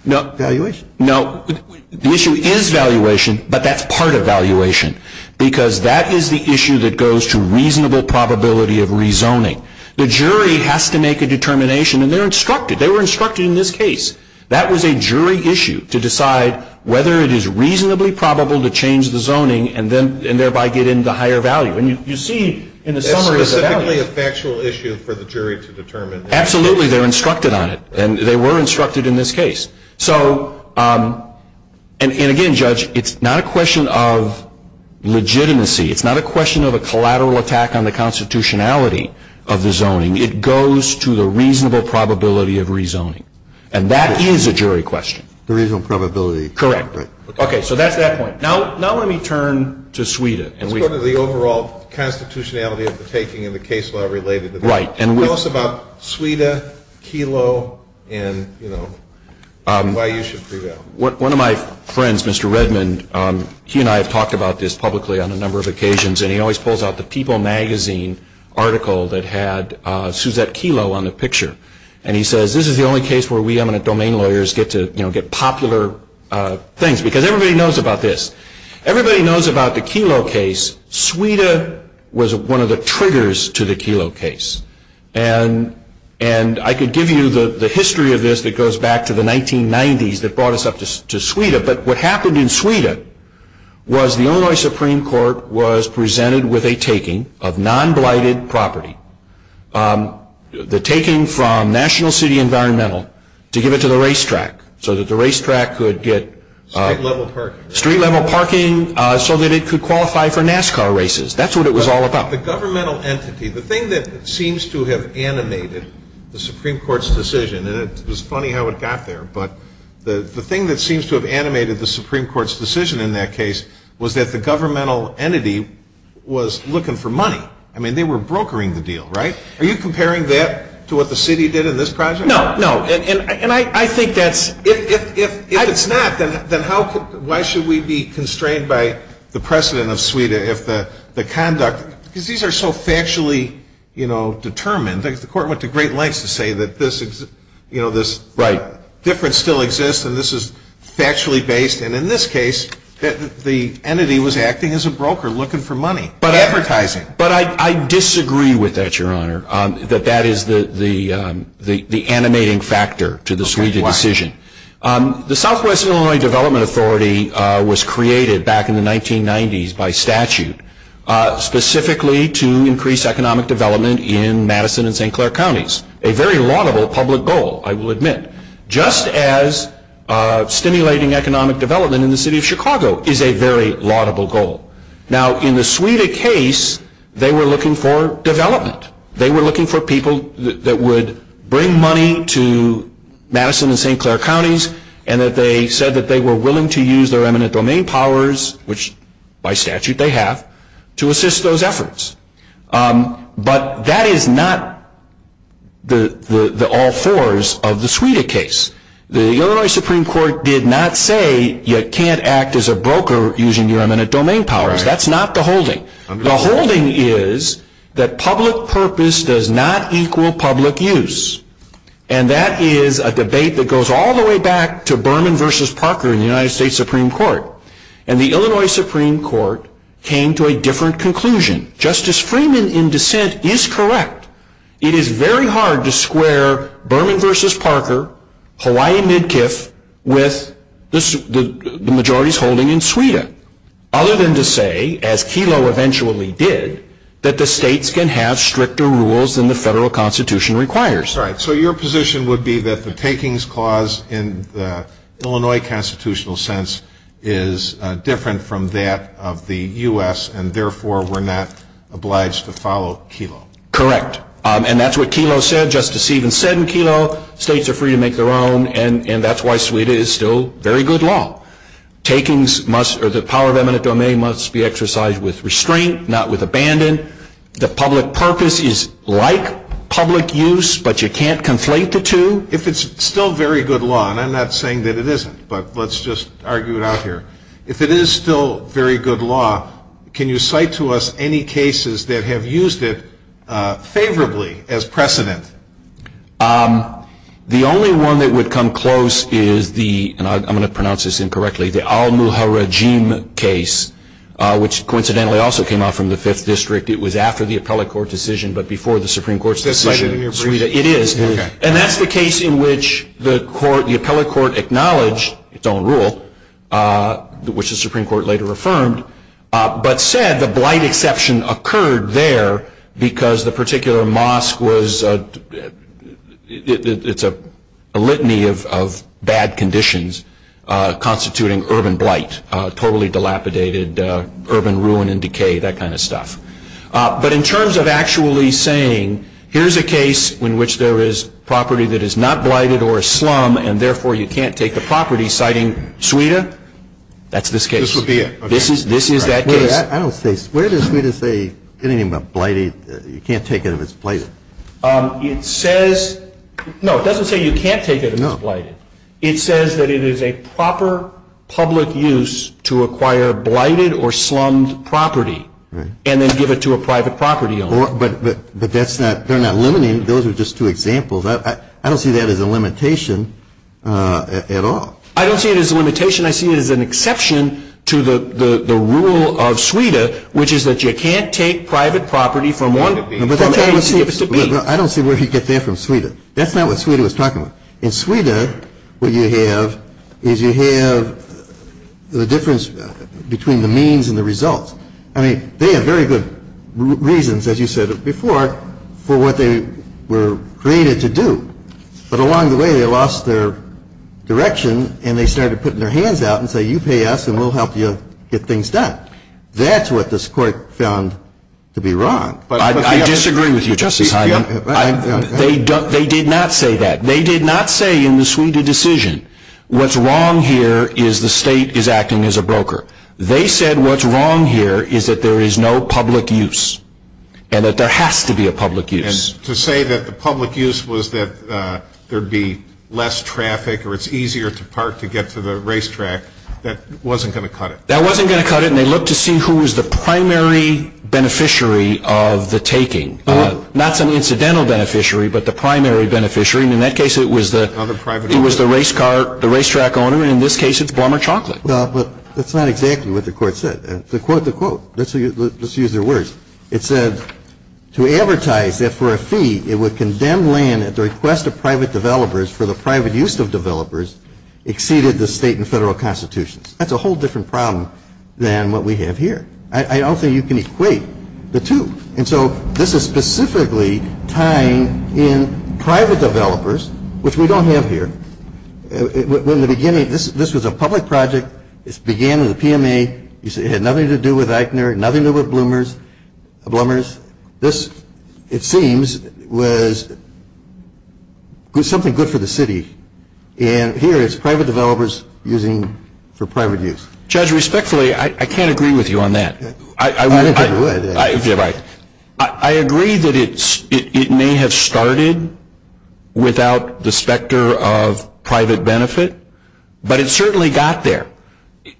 valuation. No, the issue is valuation, but that's part of valuation, because that is the issue that goes to reasonable probability of rezoning. The jury has to make a determination, and they're instructed. In this case, that was a jury issue to decide whether it is reasonably probable to change the zoning, and thereby get into higher value. And you see in the summary of that. That's specifically a factual issue for the jury to determine. Absolutely. They're instructed on it, and they were instructed in this case. So, and again, Judge, it's not a question of legitimacy. It's not a question of a collateral attack on the constitutionality of the zoning. It goes to the reasonable probability of rezoning. And that is a jury question. The reasonable probability. Correct. Okay, so that's that point. Now let me turn to SWEDA. It's sort of the overall constitutionality of the taking and the case law related to that. Right. Tell us about SWEDA, KELO, and, you know, why you should prevail. One of my friends, Mr. Redmond, he and I have talked about this publicly on a number of occasions, and he always pulls out the People Magazine article that had Suzette KELO on the picture. And he says, this is the only case where we eminent domain lawyers get to, you know, get popular things, because everybody knows about this. Everybody knows about the KELO case. SWEDA was one of the triggers to the KELO case. And I could give you the history of this that goes back to the 1990s that brought us up to SWEDA. But what happened in SWEDA was the Illinois Supreme Court was presented with a taking of non-blighted property. The taking from National City Environmental to give it to the racetrack so that the racetrack could get street-level parking so that it could qualify for NASCAR races. That's what it was all about. The governmental entity, the thing that seems to have animated the Supreme Court's decision, and it's funny how it got there, but the thing that seems to have animated the Supreme Court's decision in that case was that the governmental entity was looking for money. I mean, they were brokering the deal, right? Are you comparing that to what the city did in this project? No, no. And I think that's, if it's not, then how, why should we be constrained by the precedent of SWEDA if the conduct, because these are so factually, you know, determined. The court went to great lengths to say that this, you know, this difference still exists and this is factually based, and in this case, the entity was acting as a broker looking for money, advertising. But I disagree with that, Your Honor, that that is the animating factor to the SWEDA decision. The Southwest Illinois Development Authority was created back in the 1990s by statute, specifically to increase economic development in Madison and St. Clair Counties. A very laudable public goal, I will admit. Just as stimulating economic development in the city of Chicago is a very laudable goal. Now, in the SWEDA case, they were looking for development. They were looking for people that would bring money to Madison and St. Clair Counties and that they said that they were willing to use their eminent domain powers, which by statute they have, to assist those efforts. But that is not the all fours of the SWEDA case. The Illinois Supreme Court did not say you can't act as a broker using your eminent domain powers. That's not the holding. The holding is that public purpose does not equal public use. And that is a debate that goes all the way back to Berman versus Parker in the United States Supreme Court. And the Illinois Supreme Court came to a different conclusion. Justice Freeman, in dissent, is correct. It is very hard to square Berman versus Parker, Hawaii Midkiff, with the majority's holding in SWEDA. Other than to say, as Kelo eventually did, that the states can have stricter rules than the federal constitution requires. So your position would be that the takings clause in the Illinois constitutional sense is different from that of the US, and therefore we're not obliged to follow Kelo. Correct. And that's what Kelo said. Justice Stephen said in Kelo, states are free to make their own. And that's why SWEDA is still very good law. Takings must, or the power of eminent domain, must be exercised with restraint, not with abandon. The public purpose is like public use, but you can't conflate the two. If it's still very good law, and I'm not saying that it isn't, but let's just argue it out here. If it is still very good law, can you cite to us any cases that have used it favorably as precedent? The only one that would come close is the, and I'm going to pronounce this incorrectly, the al-Muharrajim case, which coincidentally also came out from the Fifth District. It was after the appellate court decision, but before the Supreme Court's decision. Is that cited in your brief? It is. And that's the case in which the appellate court acknowledged its own rule, which the Supreme Court later affirmed, but said the blight exception occurred there because the particular mosque was, it's a litany of bad conditions constituting urban blight, totally dilapidated urban ruin and decay, that kind of stuff. But in terms of actually saying, here's a case in which there is property that is not blighted or a slum, and therefore you can't take the property, citing Sweden, that's this case. This would be it. This is that case. I don't see, where does Sweden say anything about blighted, you can't take it if it's blighted? It says, no, it doesn't say you can't take it if it's blighted. It says that it is a proper public use to acquire blighted or slummed property, and then give it to a private property owner. But that's not, they're not limiting, those are just two examples. I don't see that as a limitation at all. I don't see it as a limitation, I see it as an exception to the rule of Sweden, which is that you can't take private property from one... I don't see where you get there from Sweden. That's not what Sweden was talking about. In Sweden, what you have is you have the difference between the means and the results. I mean, they have very good reasons, as you said before, for what they were created to do. But along the way, they lost their direction and they started putting their hands out and say, you pay us and we'll help you get things done. That's what this court found to be wrong. I disagree with you, Jesse. They did not say that. They did not say in the Sweden decision, what's wrong here is the state is acting as a broker. They said what's wrong here is that there is no public use, and that there has to be a public use. And to say that the public use was that there would be less traffic or it's easier to park to get to the racetrack, that wasn't going to cut it. That wasn't going to cut it, and they looked to see who was the primary beneficiary of the taking. Not some incidental beneficiary, but the primary beneficiary, and in that case it was the racetrack owner, and in this case it's Walmart chocolate. No, but that's not exactly what the court said. To quote the quote, let's use their words. It said, to advertise that for a fee it would condemn land at the request of private developers for the private use of developers exceeded the state and federal constitutions. That's a whole different problem than what we have here. I don't think you can equate the two. And so this is specifically tying in private developers, which we don't have here. In the beginning, this was a public project. It began with a PMA. It had nothing to do with Eichner, nothing to do with bloomers. This, it seems, was something good for the city. And here it's private developers using for private use. Judge, respectfully, I can't agree with you on that. I agree that it may have started without the specter of private benefit, but it certainly got there.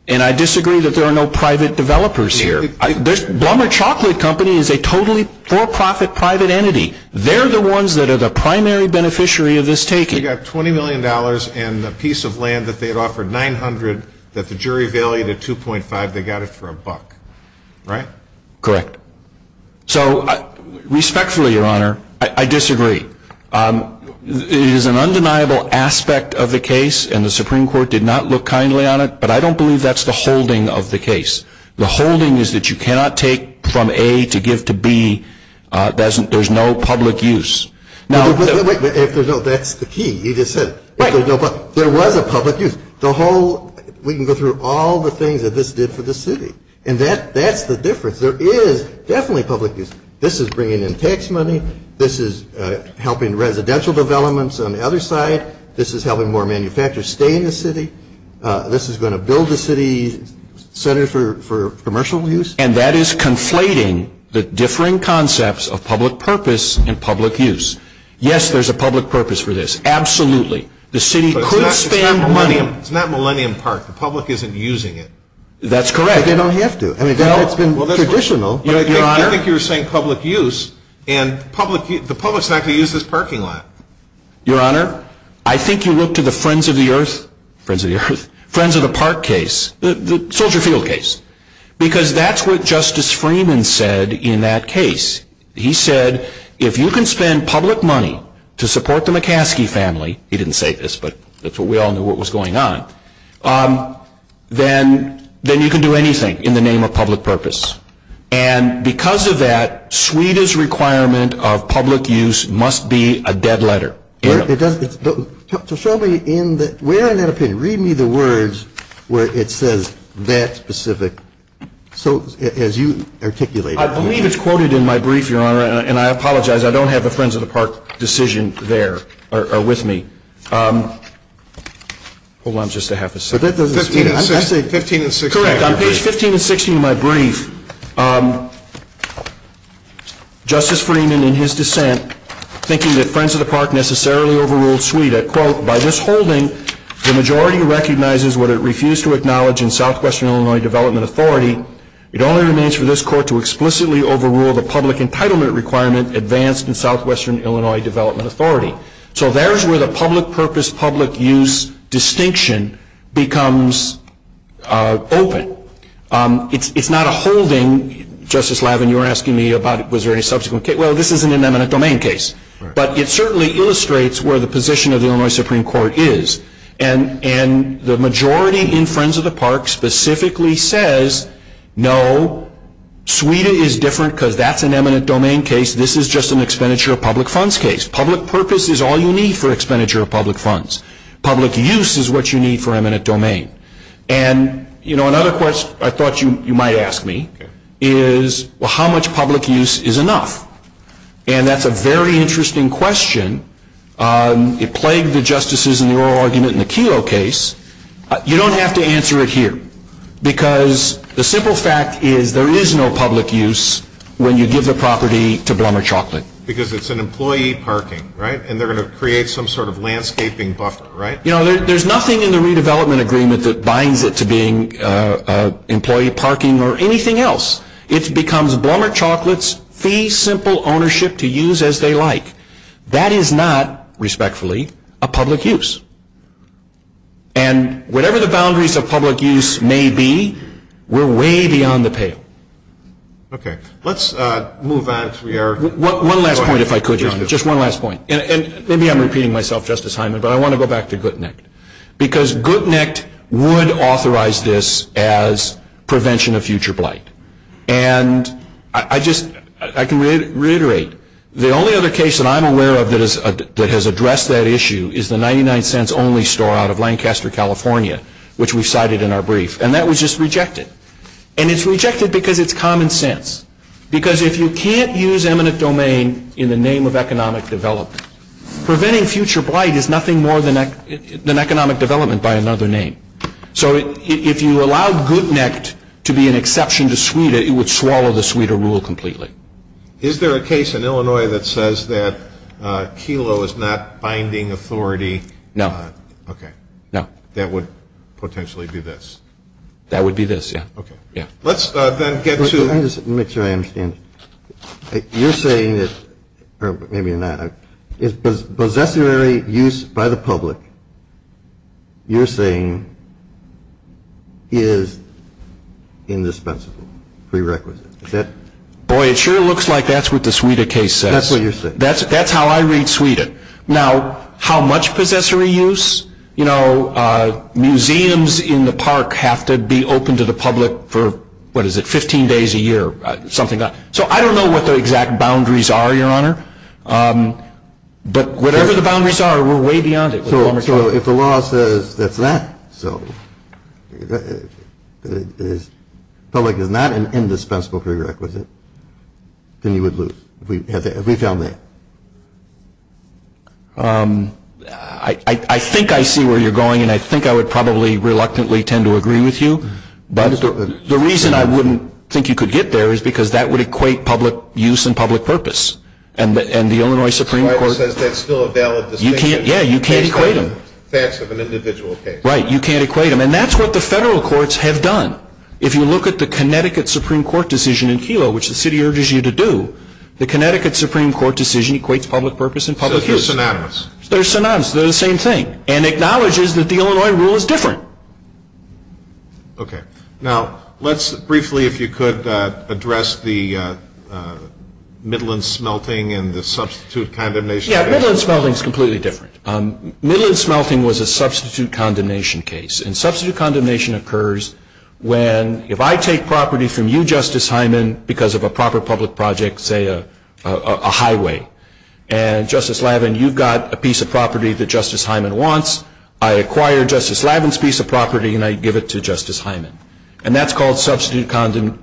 And I disagree that there are no private developers here. This Walmart chocolate company is a totally for-profit private entity. They're the ones that are the primary beneficiary of this taking. You've got $20 million and a piece of land that they've offered 900 that the jury valued at 2.5. They got it for a buck, right? Correct. So respectfully, Your Honor, I disagree. It is an undeniable aspect of the case, and the Supreme Court did not look kindly on it, but I don't believe that's the holding of the case. The holding is that you cannot take from A to give to B. There's no public use. That's the key. You just said it. There was a public use. We can go through all the things that this did for the city, and that's the difference. There is definitely public use. This is bringing in tax money. This is helping residential developments on the other side. This is helping more manufacturers stay in the city. This is going to build a city center for commercial use. And that is conflating the differing concepts of public purpose and public use. Yes, there's a public purpose for this. Absolutely. The city could have spent money. It's not Millennium Park. The public isn't using it. That's correct. They don't have to. It's been traditional. I think you're saying public use, and the public's not going to use this parking lot. Your Honor, I think you look to the Friends of the Earth, Friends of the Park case, the Soldier Field case, because that's what Justice Freeman said in that case. He said, if you can spend public money to support the McCaskey family, he didn't say this, but we all knew what was going on, then you can do anything in the name of public purpose. And because of that, Sweden's requirement of public use must be a dead letter. So show me where in that opinion, read me the words where it says that specific, as you articulated. I believe it's quoted in my brief, Your Honor, and I apologize. I don't have a Friends of the Park decision there or with me. Hold on just a half a second. 15 and 16. Correct. On page 15 and 16 of my brief, Justice Freeman, in his dissent, thinking that Friends of the Park necessarily overruled Sweden, quote, by withholding the majority recognizes what it refused to acknowledge in Southwestern Illinois Development Authority, it only remains for this court to explicitly overrule the public entitlement requirement advanced in Southwestern Illinois Development Authority. So there's where the public purpose, public use distinction becomes open. It's not a hold-in. Justice Lavin, you were asking me about was there any subsequent case. Well, this isn't an eminent domain case. But it certainly illustrates where the position of the Illinois Supreme Court is. And the majority in Friends of the Park specifically says, no, Sweden is different because that's an eminent domain case. This is just an expenditure of public funds case. Public purpose is all you need for expenditure of public funds. Public use is what you need for eminent domain. And, you know, another question I thought you might ask me is, well, how much public use is enough? And that's a very interesting question. It plagued the justices in the oral argument in the Kelo case. You don't have to answer it here because the simple fact is there is no public use when you give the property to Blender Chocolate. Because it's an employee parking, right? And they're going to create some sort of landscaping buffer, right? You know, there's nothing in the redevelopment agreement that binds it to being employee parking or anything else. It becomes Blender Chocolate's fee simple ownership to use as they like. That is not, respectfully, a public use. And whatever the boundaries of public use may be, we're way beyond the pale. Okay. Let's move on. One last point, if I could. Just one last point. And maybe I'm repeating myself, Justice Hyman, but I want to go back to Guttnacht. Because Guttnacht would authorize this as prevention of future blight. And I can reiterate, the only other case that I'm aware of that has addressed that issue is the 99 cents only store out of Lancaster, California, which we cited in our brief. And that was just rejected. And it's rejected because it's common sense. Because if you can't use eminent domain in the name of economic development, preventing future blight is nothing more than economic development by another name. So if you allow Guttnacht to be an exception to SWEDA, it would swallow the SWEDA rule completely. Is there a case in Illinois that says that Kelo is not binding authority? No. Okay. No. That would potentially be this. That would be this, yeah. Okay. Yeah. Let's then get to. Let me just make sure I understand. You're saying it's, or maybe you're not. Possessory use by the public, you're saying, is indispensable, prerequisite. Boy, it sure looks like that's what the SWEDA case says. That's what you're saying. That's how I read SWEDA. Now, how much possessory use? Museums in the park have to be open to the public for, what is it, 15 days a year, something like that. So I don't know what the exact boundaries are, Your Honor. But whatever the boundaries are, we're way beyond it. So if the law says that's that. So it felt like if not an indispensable prerequisite, then you would lose. Reach down there. I think I see where you're going, and I think I would probably reluctantly tend to agree with you. The reason I wouldn't think you could get there is because that would equate public use and public purpose. And the Illinois Supreme Court. That's still a valid distinction. Yeah, you can't equate them. Right, you can't equate them. And that's what the federal courts have done. If you look at the Connecticut Supreme Court decision in Kelo, which the city urges you to do, the Connecticut Supreme Court decision equates public purpose and public use. So they're synonymous. They're synonymous. They're the same thing. And acknowledges that the Illinois rule is different. Okay. Now, let's briefly, if you could, address the Midland smelting and the substitute condemnation. Yeah, Midland smelting is completely different. Midland smelting was a substitute condemnation case. And substitute condemnation occurs when, if I take property from you, Justice Hyman, because of a proper public project, say a highway, and Justice Lavin, you've got a piece of property that Justice Hyman wants, I acquire Justice Lavin's piece of property and I give it to Justice Hyman. And that's called substitute condemnation,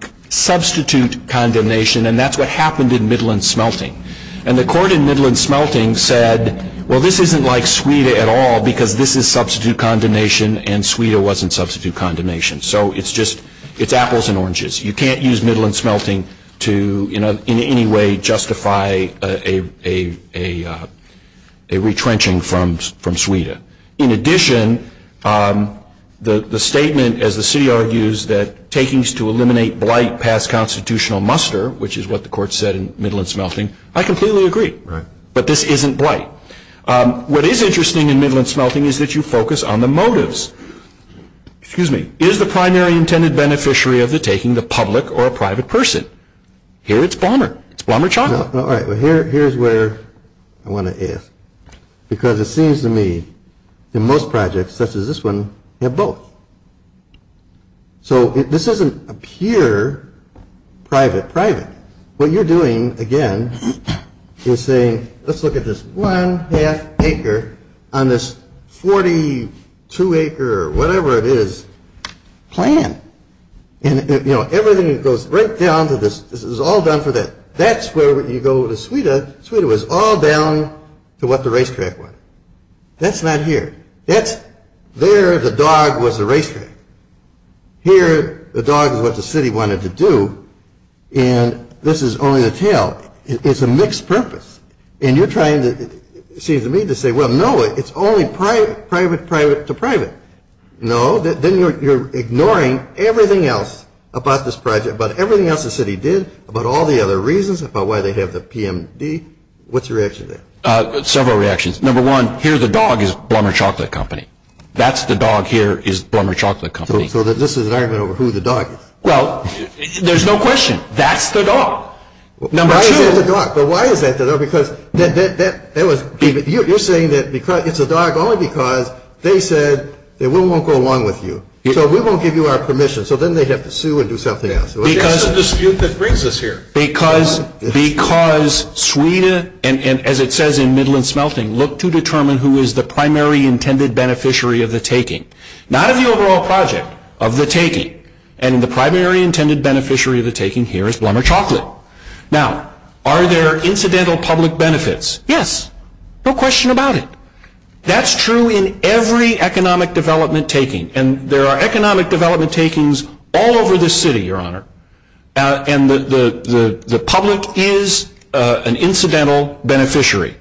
and that's what happened in Midland smelting. And the court in Midland smelting said, well, this isn't like Sweden at all because this is substitute condemnation and Sweden wasn't substitute condemnation. So it's just apples and oranges. You can't use Midland smelting to in any way justify a retrenchment from Sweden. In addition, the statement, as the city argues, that takings to eliminate blight pass constitutional muster, which is what the court said in Midland smelting, I completely agree. Right. But this isn't blight. What is interesting in Midland smelting is that you focus on the motives. Excuse me. Is the primary intended beneficiary of the taking the public or private person? Here it's Palmer. It's Palmer Chocolate. All right. Well, here's where I want to ask. Because it seems to me that most projects, such as this one, have both. So this isn't a pure private-private. What you're doing, again, is saying, let's look at this one half acre on this 42 acre or whatever it is plan. And, you know, everything goes right down to this. This is all done for that. That's where you go to Sweden. Sweden was all down to what the racetrack was. That's not here. There the dog was the racetrack. Here the dog was what the city wanted to do. And this is only the tail. It's a mixed purpose. And you're trying to, it seems to me, to say, well, no, it's only private-private to private. No, then you're ignoring everything else about this project, about everything else the city did, about all the other reasons, about why they have the PMD. What's your reaction to that? Several reactions. Number one, here the dog is Blumberg Chocolate Company. That's the dog here is Blumberg Chocolate Company. So this is an argument over who the dog is. Well, there's no question. That's the dog. Number two. But why is that, though? Because that was, you're saying that it's the dog only because they said that we won't go along with you. So we won't give you our permission. So then they'd have to sue and do something else. That's the dispute that brings us here. Because Sweden, and as it says in Midland Smelting, look to determine who is the primary intended beneficiary of the taking. Not of the overall project, of the taking. And the primary intended beneficiary of the taking here is Blumberg Chocolate. Now, are there incidental public benefits? Yes. No question about it. That's true in every economic development taking. And there are economic development takings all over the city, Your Honor. And the public is an incidental beneficiary.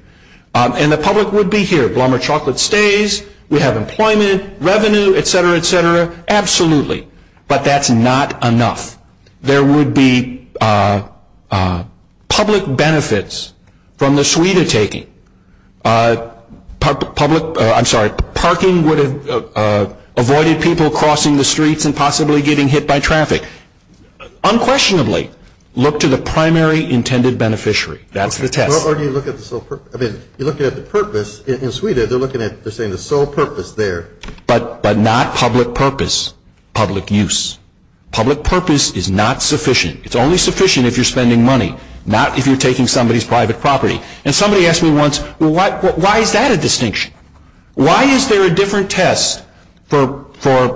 And the public would be here. Blumberg Chocolate stays. We have employment, revenue, et cetera, et cetera. Absolutely. But that's not enough. There would be public benefits from the Sweden taking. I'm sorry. Parking would have avoided people crossing the streets and possibly getting hit by traffic. Unquestionably, look to the primary intended beneficiary. That's the test. You're looking at the purpose. In Sweden, they're looking at the sole purpose there. But not public purpose. Public use. Public purpose is not sufficient. It's only sufficient if you're spending money. Not if you're taking somebody's private property. And somebody asked me once, why is that a distinction? Why is there a different test for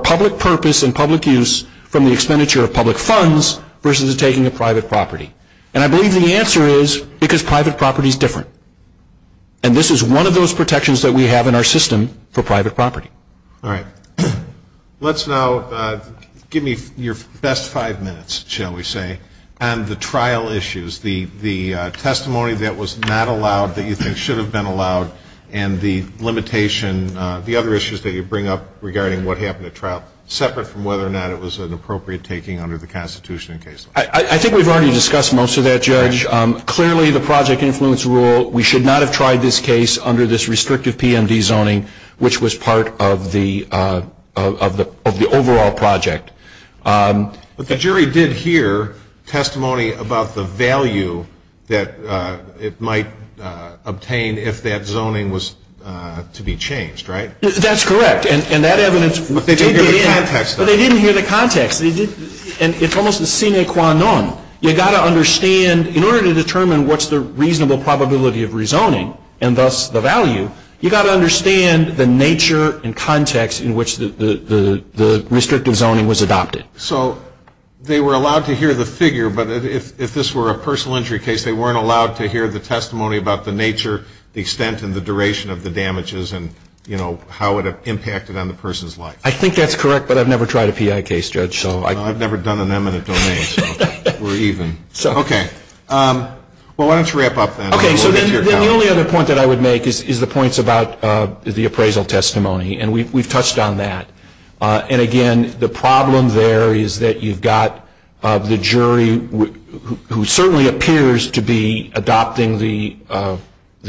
public purpose and public use from the expenditure of public funds versus taking a private property? And I believe the answer is because private property is different. And this is one of those protections that we have in our system for private property. All right. Let's now give me your best five minutes, shall we say, on the trial issues. The testimony that was not allowed, that you think should have been allowed, and the limitation, the other issues that you bring up regarding what happened at trial, separate from whether or not it was an appropriate taking under the Constitution. I think we've already discussed most of that, Judge. Clearly, the project influence rule, we should not have tried this case under this restrictive PMD zoning, which was part of the overall project. The jury did hear testimony about the value that it might obtain if that zoning was to be changed, right? That's correct. But they didn't hear the context. And it's almost a sine qua non. You've got to understand, in order to determine what's the reasonable probability of rezoning, and thus the value, you've got to understand the nature and context in which the restrictive zoning was adopted. So they were allowed to hear the figure, but if this were a personal injury case, they weren't allowed to hear the testimony about the nature, the extent, and the duration of the damages, and, you know, how it impacted on the person's life. I think that's correct, but I've never tried a PI case, Judge. No, I've never done an eminent domain, or even. Okay. Well, why don't you wrap up, then. Okay, so then the only other point that I would make is the points about the appraisal testimony, and we've touched on that. And, again, the problem there is that you've got the jury, who certainly appears to be adopting the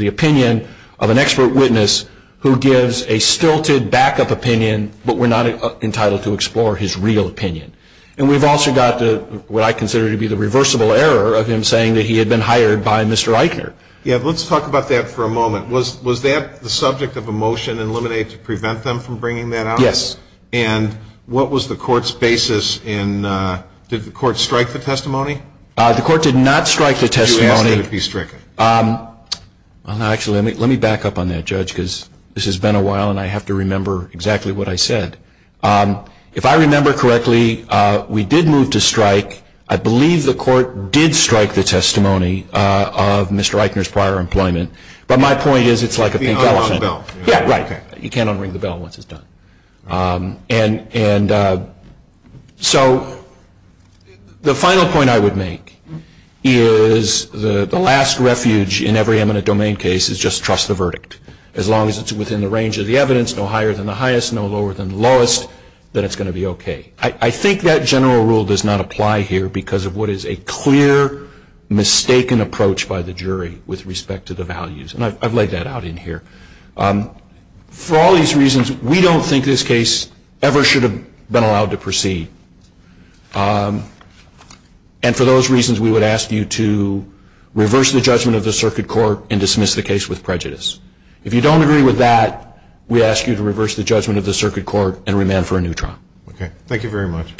opinion of an expert witness, who gives a stilted backup opinion, but we're not entitled to explore his real opinion. And we've also got what I consider to be the reversible error of him saying that he had been hired by Mr. Eichner. Yeah, but let's talk about that for a moment. Was that the subject of a motion, eliminated to prevent them from bringing that out? Yes. And what was the court's basis, and did the court strike the testimony? The court did not strike the testimony. It would be stricken. Actually, let me back up on that, Judge, because this has been a while, and I have to remember exactly what I said. If I remember correctly, we did move to strike. I believe the court did strike the testimony of Mr. Eichner's prior employment, but my point is it's like a pink bell. You can't unring the bell. Yeah, right. You can't unring the bell once it's done. And so the final point I would make is the last refuge in every eminent domain case is just trust the verdict. As long as it's within the range of the evidence, no higher than the highest, no lower than the lowest, then it's going to be okay. I think that general rule does not apply here because of what is a clear, mistaken approach by the jury with respect to the values, and I've laid that out in here. For all these reasons, we don't think this case ever should have been allowed to proceed, and for those reasons, we would ask you to reverse the judgment of the circuit court and dismiss the case with prejudice. If you don't agree with that, we ask you to reverse the judgment of the circuit court and remand for a new trial. Okay. Thank you very much.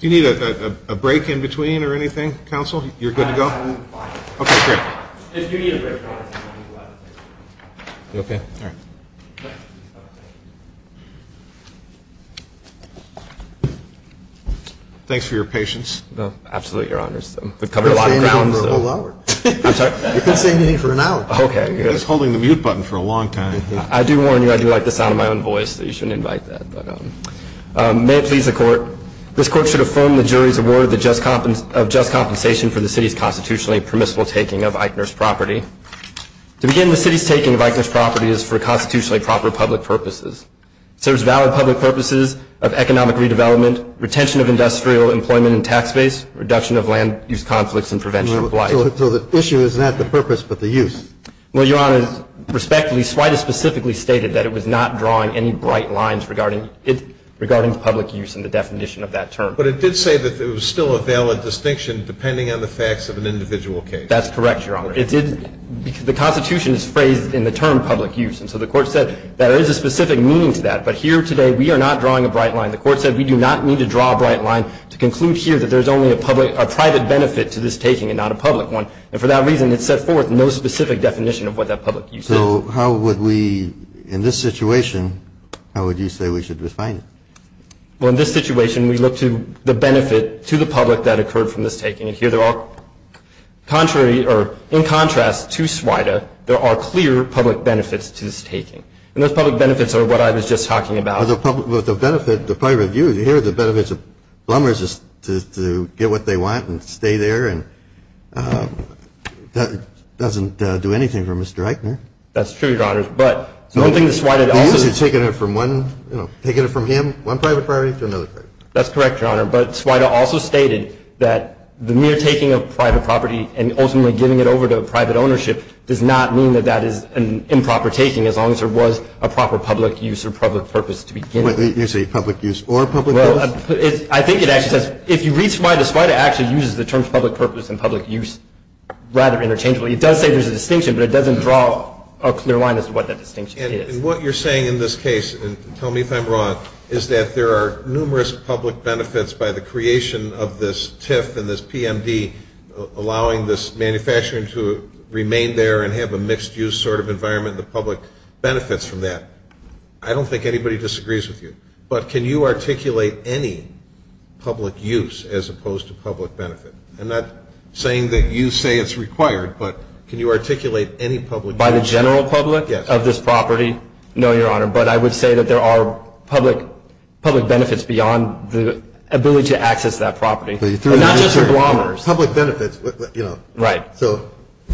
Do you need a break in between or anything, counsel? You're good to go? Okay, fair. You okay? All right. Thanks for your patience. Absolutely, Your Honors. We've covered a lot of ground, though. You've been saying anything for an hour. I'm sorry? You've been saying anything for an hour. Okay. You've been holding the mute button for a long time. I do warn you, I do like the sound of my own voice, so you shouldn't invite that. May it please the court. This court should affirm the jury's award of just compensation for the city's constitutionally permissible taking of Eichner's property. To begin, the city's taking of Eichner's property is for constitutionally proper public purposes. It serves valid public purposes of economic redevelopment, retention of industrial employment and tax base, reduction of land use conflicts, and prevention of life. So the issue is not the purpose, but the use. Well, Your Honor, respectably, SWITA specifically stated that it was not drawing any bright lines regarding public use in the definition of that term. But it did say that there was still a valid distinction depending on the facts of an individual case. That's correct, Your Honor. The constitution is phrased in the term public use, and so the court said that there is a specific meaning to that. But here today, we are not drawing a bright line. The court said we do not need to draw a bright line to conclude here that there is only a private benefit to this taking and not a public one. And for that reason, it set forth no specific definition of what that public use is. So how would we, in this situation, how would you say we should define it? Well, in this situation, we look to the benefit to the public that occurred from this taking. And here there are contrary or in contrast to SWITA, there are clear public benefits to this taking. And those public benefits are what I was just talking about. Well, the benefit to private use, here the benefit to plumbers is to get what they want and stay there. And that doesn't do anything for Mr. Eichner. That's true, Your Honor. But one thing that SWITA also – You're usually taking it from one – you know, taking it from him, one private property to another private property. That's correct, Your Honor. But SWITA also stated that the mere taking of private property and ultimately giving it over to private ownership does not mean that that is an improper taking as long as there was a proper public use or public purpose to begin with. You say public use or public purpose? Well, I think it actually says – if you read SWITA, it actually uses the terms public purpose and public use rather interchangeably. It does say there's a distinction, but it doesn't draw a clear line as to what that distinction is. And what you're saying in this case, and tell me if I'm wrong, is that there are numerous public benefits by the creation of this TIF and this PMD, allowing this manufacturer to remain there and have a mixed-use sort of environment, the public benefits from that. I don't think anybody disagrees with you. But can you articulate any public use as opposed to public benefit? I'm not saying that you say it's required, but can you articulate any public use? By the general public? Yes. Of this property? No, Your Honor, but I would say that there are public benefits beyond the ability to access that property. Public benefits, you know. Right. So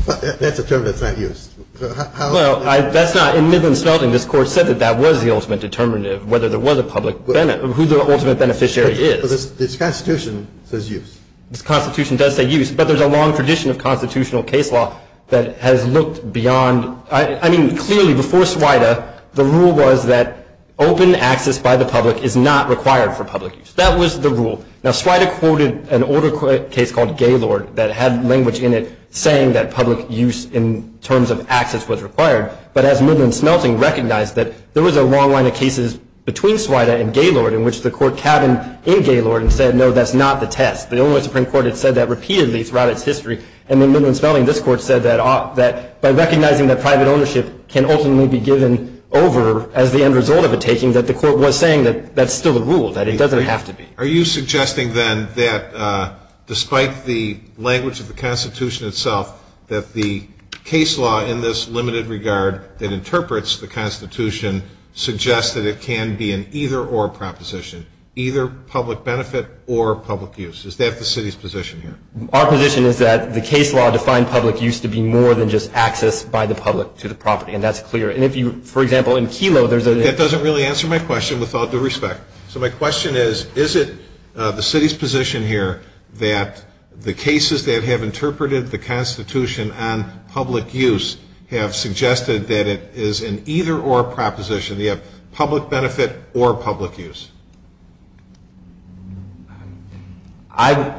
that's a term that's not used. Well, that's not – in Midland-Selton, this Court said that that was the ultimate determinative, whether there was a public benefit, who the ultimate beneficiary is. But this Constitution says use. This Constitution does say use, but there's a long tradition of constitutional case law that has looked beyond – I mean, clearly, before SWITA, the rule was that open access by the public is not required for public use. That was the rule. Now, SWITA quoted an older case called Gaylord that had language in it saying that public use in terms of access was required. But as Midland-Selton recognized that there was a long line of cases between SWITA and Gaylord in which the Court cabined in Gaylord and said, no, that's not the test. The Illinois Supreme Court had said that repeatedly throughout its history. And in Midland-Selton, this Court said that by recognizing that private ownership can ultimately be given over as the end result of a taking, that the Court was saying that that's still a rule, that it doesn't have to be. Are you suggesting, then, that despite the language of the Constitution itself, that the case law in this limited regard that interprets the Constitution suggests that it can be an either-or proposition, either public benefit or public use? Is that the city's position here? Our position is that the case law defined public use to be more than just access by the public to the property, and that's clear. And if you – for example, in Kelo, there's a – That doesn't really answer my question without the respect. So my question is, is it the city's position here that the cases that have interpreted the Constitution on public use have suggested that it is an either-or proposition, that you have public benefit or public use?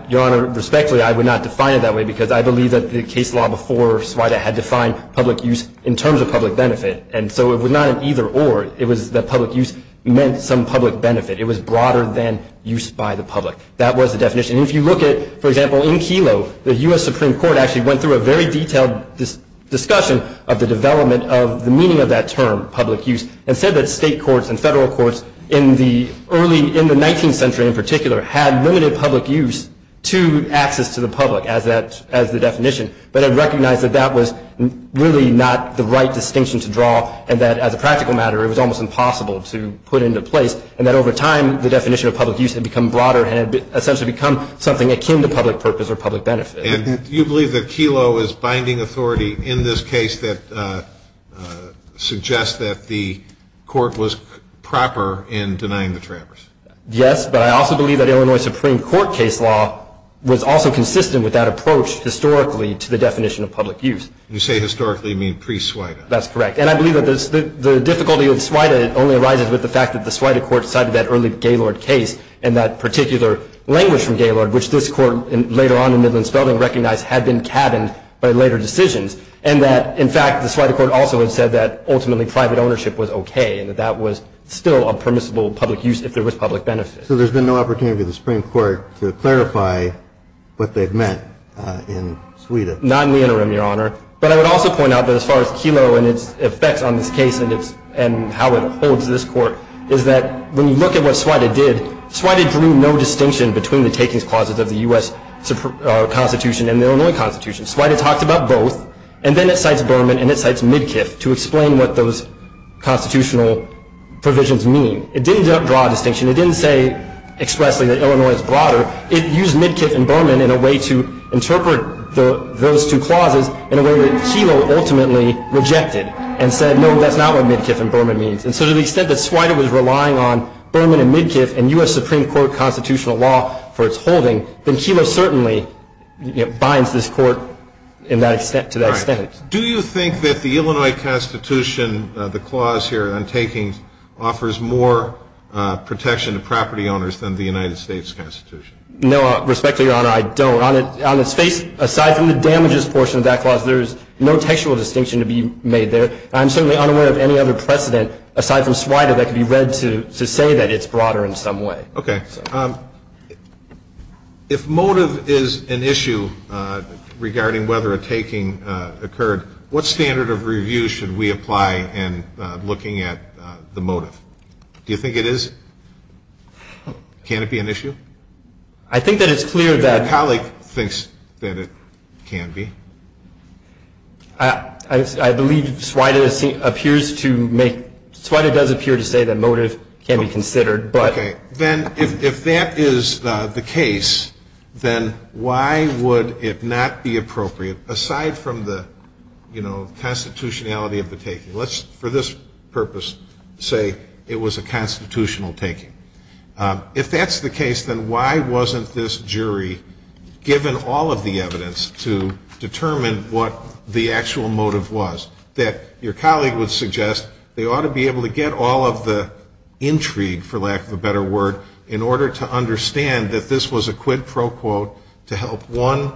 Your Honor, respectfully, I would not define it that way because I believe that the case law before SWITA had defined public use in terms of public benefit, and so it was not an either-or. It was that public use meant some public benefit. It was broader than use by the public. That was the definition. And if you look at, for example, in Kelo, the U.S. Supreme Court actually went through a very detailed discussion of the development of the meaning of that term, public use, and said that state courts and federal courts in the early – in the 19th century in particular had limited public use to access to the public as the definition, but had recognized that that was really not the right distinction to draw, and that as a practical matter it was almost impossible to put into place, and that over time the definition of public use had become broader and had essentially become something akin to public purpose or public benefit. And you believe that Kelo is binding authority in this case that suggests that the court was proper in denying the trampers? Yes, but I also believe that Illinois Supreme Court case law was also consistent with that approach historically to the definition of public use. You say historically, you mean pre-SWITA. That's correct. And I believe that the difficulty of SWITA only arises with the fact that the SWITA court cited that early Gaylord case and that particular language from Gaylord, which this court later on in the middle and southern recognized had been tabbed by later decisions, and that in fact the SWITA court also had said that ultimately private ownership was okay and that that was still a permissible public use if there was public benefit. So there's been no opportunity for the Supreme Court to clarify what they've meant in SWITA? Not in the interim, Your Honor. But I would also point out that as far as Kelo and its effect on this case and how it holds this court, is that when you look at what SWITA did, SWITA drew no distinction between the takings clauses of the U.S. Constitution and the Illinois Constitution. SWITA talked about both, and then it cites Berman and it cites Midkiff to explain what those constitutional provisions mean. It didn't draw a distinction. It didn't say expressly that Illinois is broader. It used Midkiff and Berman in a way to interpret those two clauses in a way that Kelo ultimately rejected and said, no, that's not what Midkiff and Berman mean. And so to the extent that SWITA was relying on Berman and Midkiff and U.S. Supreme Court constitutional law for its holding, then Kelo certainly binds this court to that extent. Do you think that the Illinois Constitution, the clause here on takings, offers more protection to property owners than the United States Constitution? No, respectfully, Your Honor, I don't. On the state, aside from the damages portion of that clause, there's no textual distinction to be made there. I'm certainly unaware of any other precedent aside from SWITA that can be read to say that it's broader in some way. Okay. If motive is an issue regarding whether a taking occurred, what standard of review should we apply in looking at the motive? Do you think it is? Can it be an issue? I think that it's clear that the colleague thinks that it can be. I believe SWITA does appear to say that motive can be considered. Okay. Then if that is the case, then why would it not be appropriate, aside from the constitutionality of the taking? Let's, for this purpose, say it was a constitutional taking. If that's the case, then why wasn't this jury given all of the evidence to determine what the actual motive was? That your colleague would suggest they ought to be able to get all of the intrigue, for lack of a better word, in order to understand that this was a quid pro quo to help one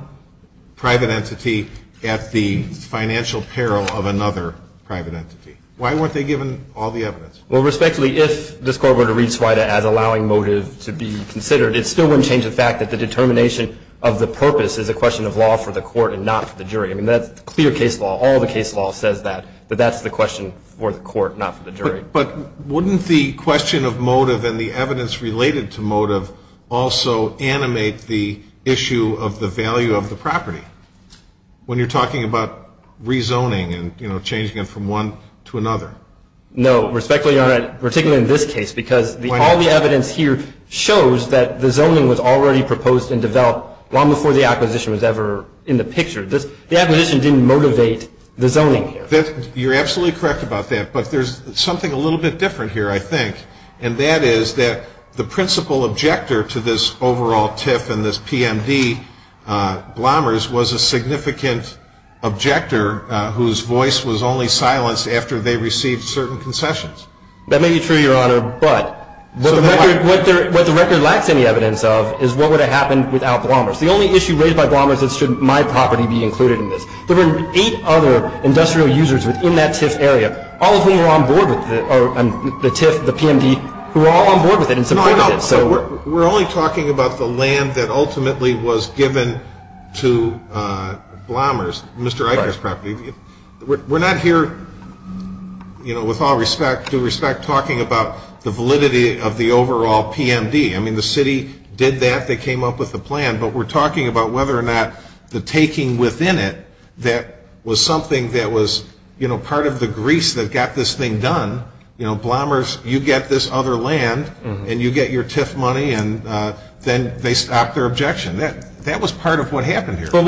private entity at the financial peril of another private entity. Why weren't they given all the evidence? Well, respectfully, if this Court were to read SWITA as allowing motive to be considered, it still wouldn't change the fact that the determination of the purpose is a question of law for the Court and not for the jury. I mean, that's clear case law. All the case law says that, that that's the question for the Court, not for the jury. But wouldn't the question of motive and the evidence related to motive also animate the issue of the value of the property, when you're talking about rezoning and, you know, changing it from one to another? No. Respectfully, Your Honor, particularly in this case, because all the evidence here shows that the zoning was already proposed and developed long before the acquisition was ever in the picture. The acquisition didn't motivate the zoning here. You're absolutely correct about that, but there's something a little bit different here, I think, and that is that the principal objector to this overall tip and this PMD, Blomers, was a significant objector whose voice was only silenced after they received certain concessions. That may be true, Your Honor, but what the record lacks any evidence of is what would have happened without Blomers. The only issue raised by Blomers is should my property be included in this. There were eight other industrial users who were in that TIF area, all of whom were on board with it, the TIF, the PMD, who were all on board with it and supported it. We're only talking about the land that ultimately was given to Blomers, Mr. Eichner's property. We're not here, you know, with all due respect, talking about the validity of the overall PMD. I mean, the city did that. They came up with the plan, but we're talking about whether or not the taking within it, that was something that was, you know, part of the grease that got this thing done. You know, Blomers, you get this other land, and you get your TIF money, and then they stopped their objection. That was part of what happened here. But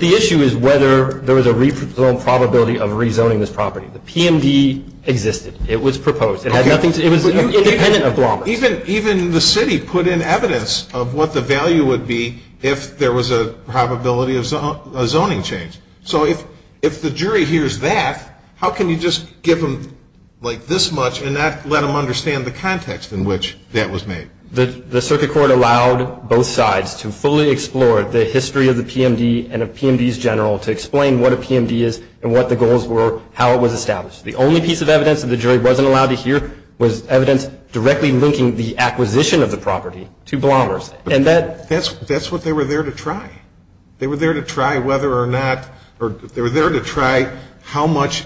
the issue is whether there was a rezone probability of rezoning this property. The PMD existed. It was proposed. It was independent of Blomers. Even the city put in evidence of what the value would be if there was a probability of zoning change. So if the jury hears that, how can you just give them, like, this much and not let them understand the context in which that was made? The circuit court allowed both sides to fully explore the history of the PMD and of PMDs general to explain what a PMD is and what the goals were, how it was established. The only piece of evidence that the jury wasn't allowed to hear was evidence directly linking the acquisition of the property to Blomers. That's what they were there to try. They were there to try whether or not, or they were there to try how much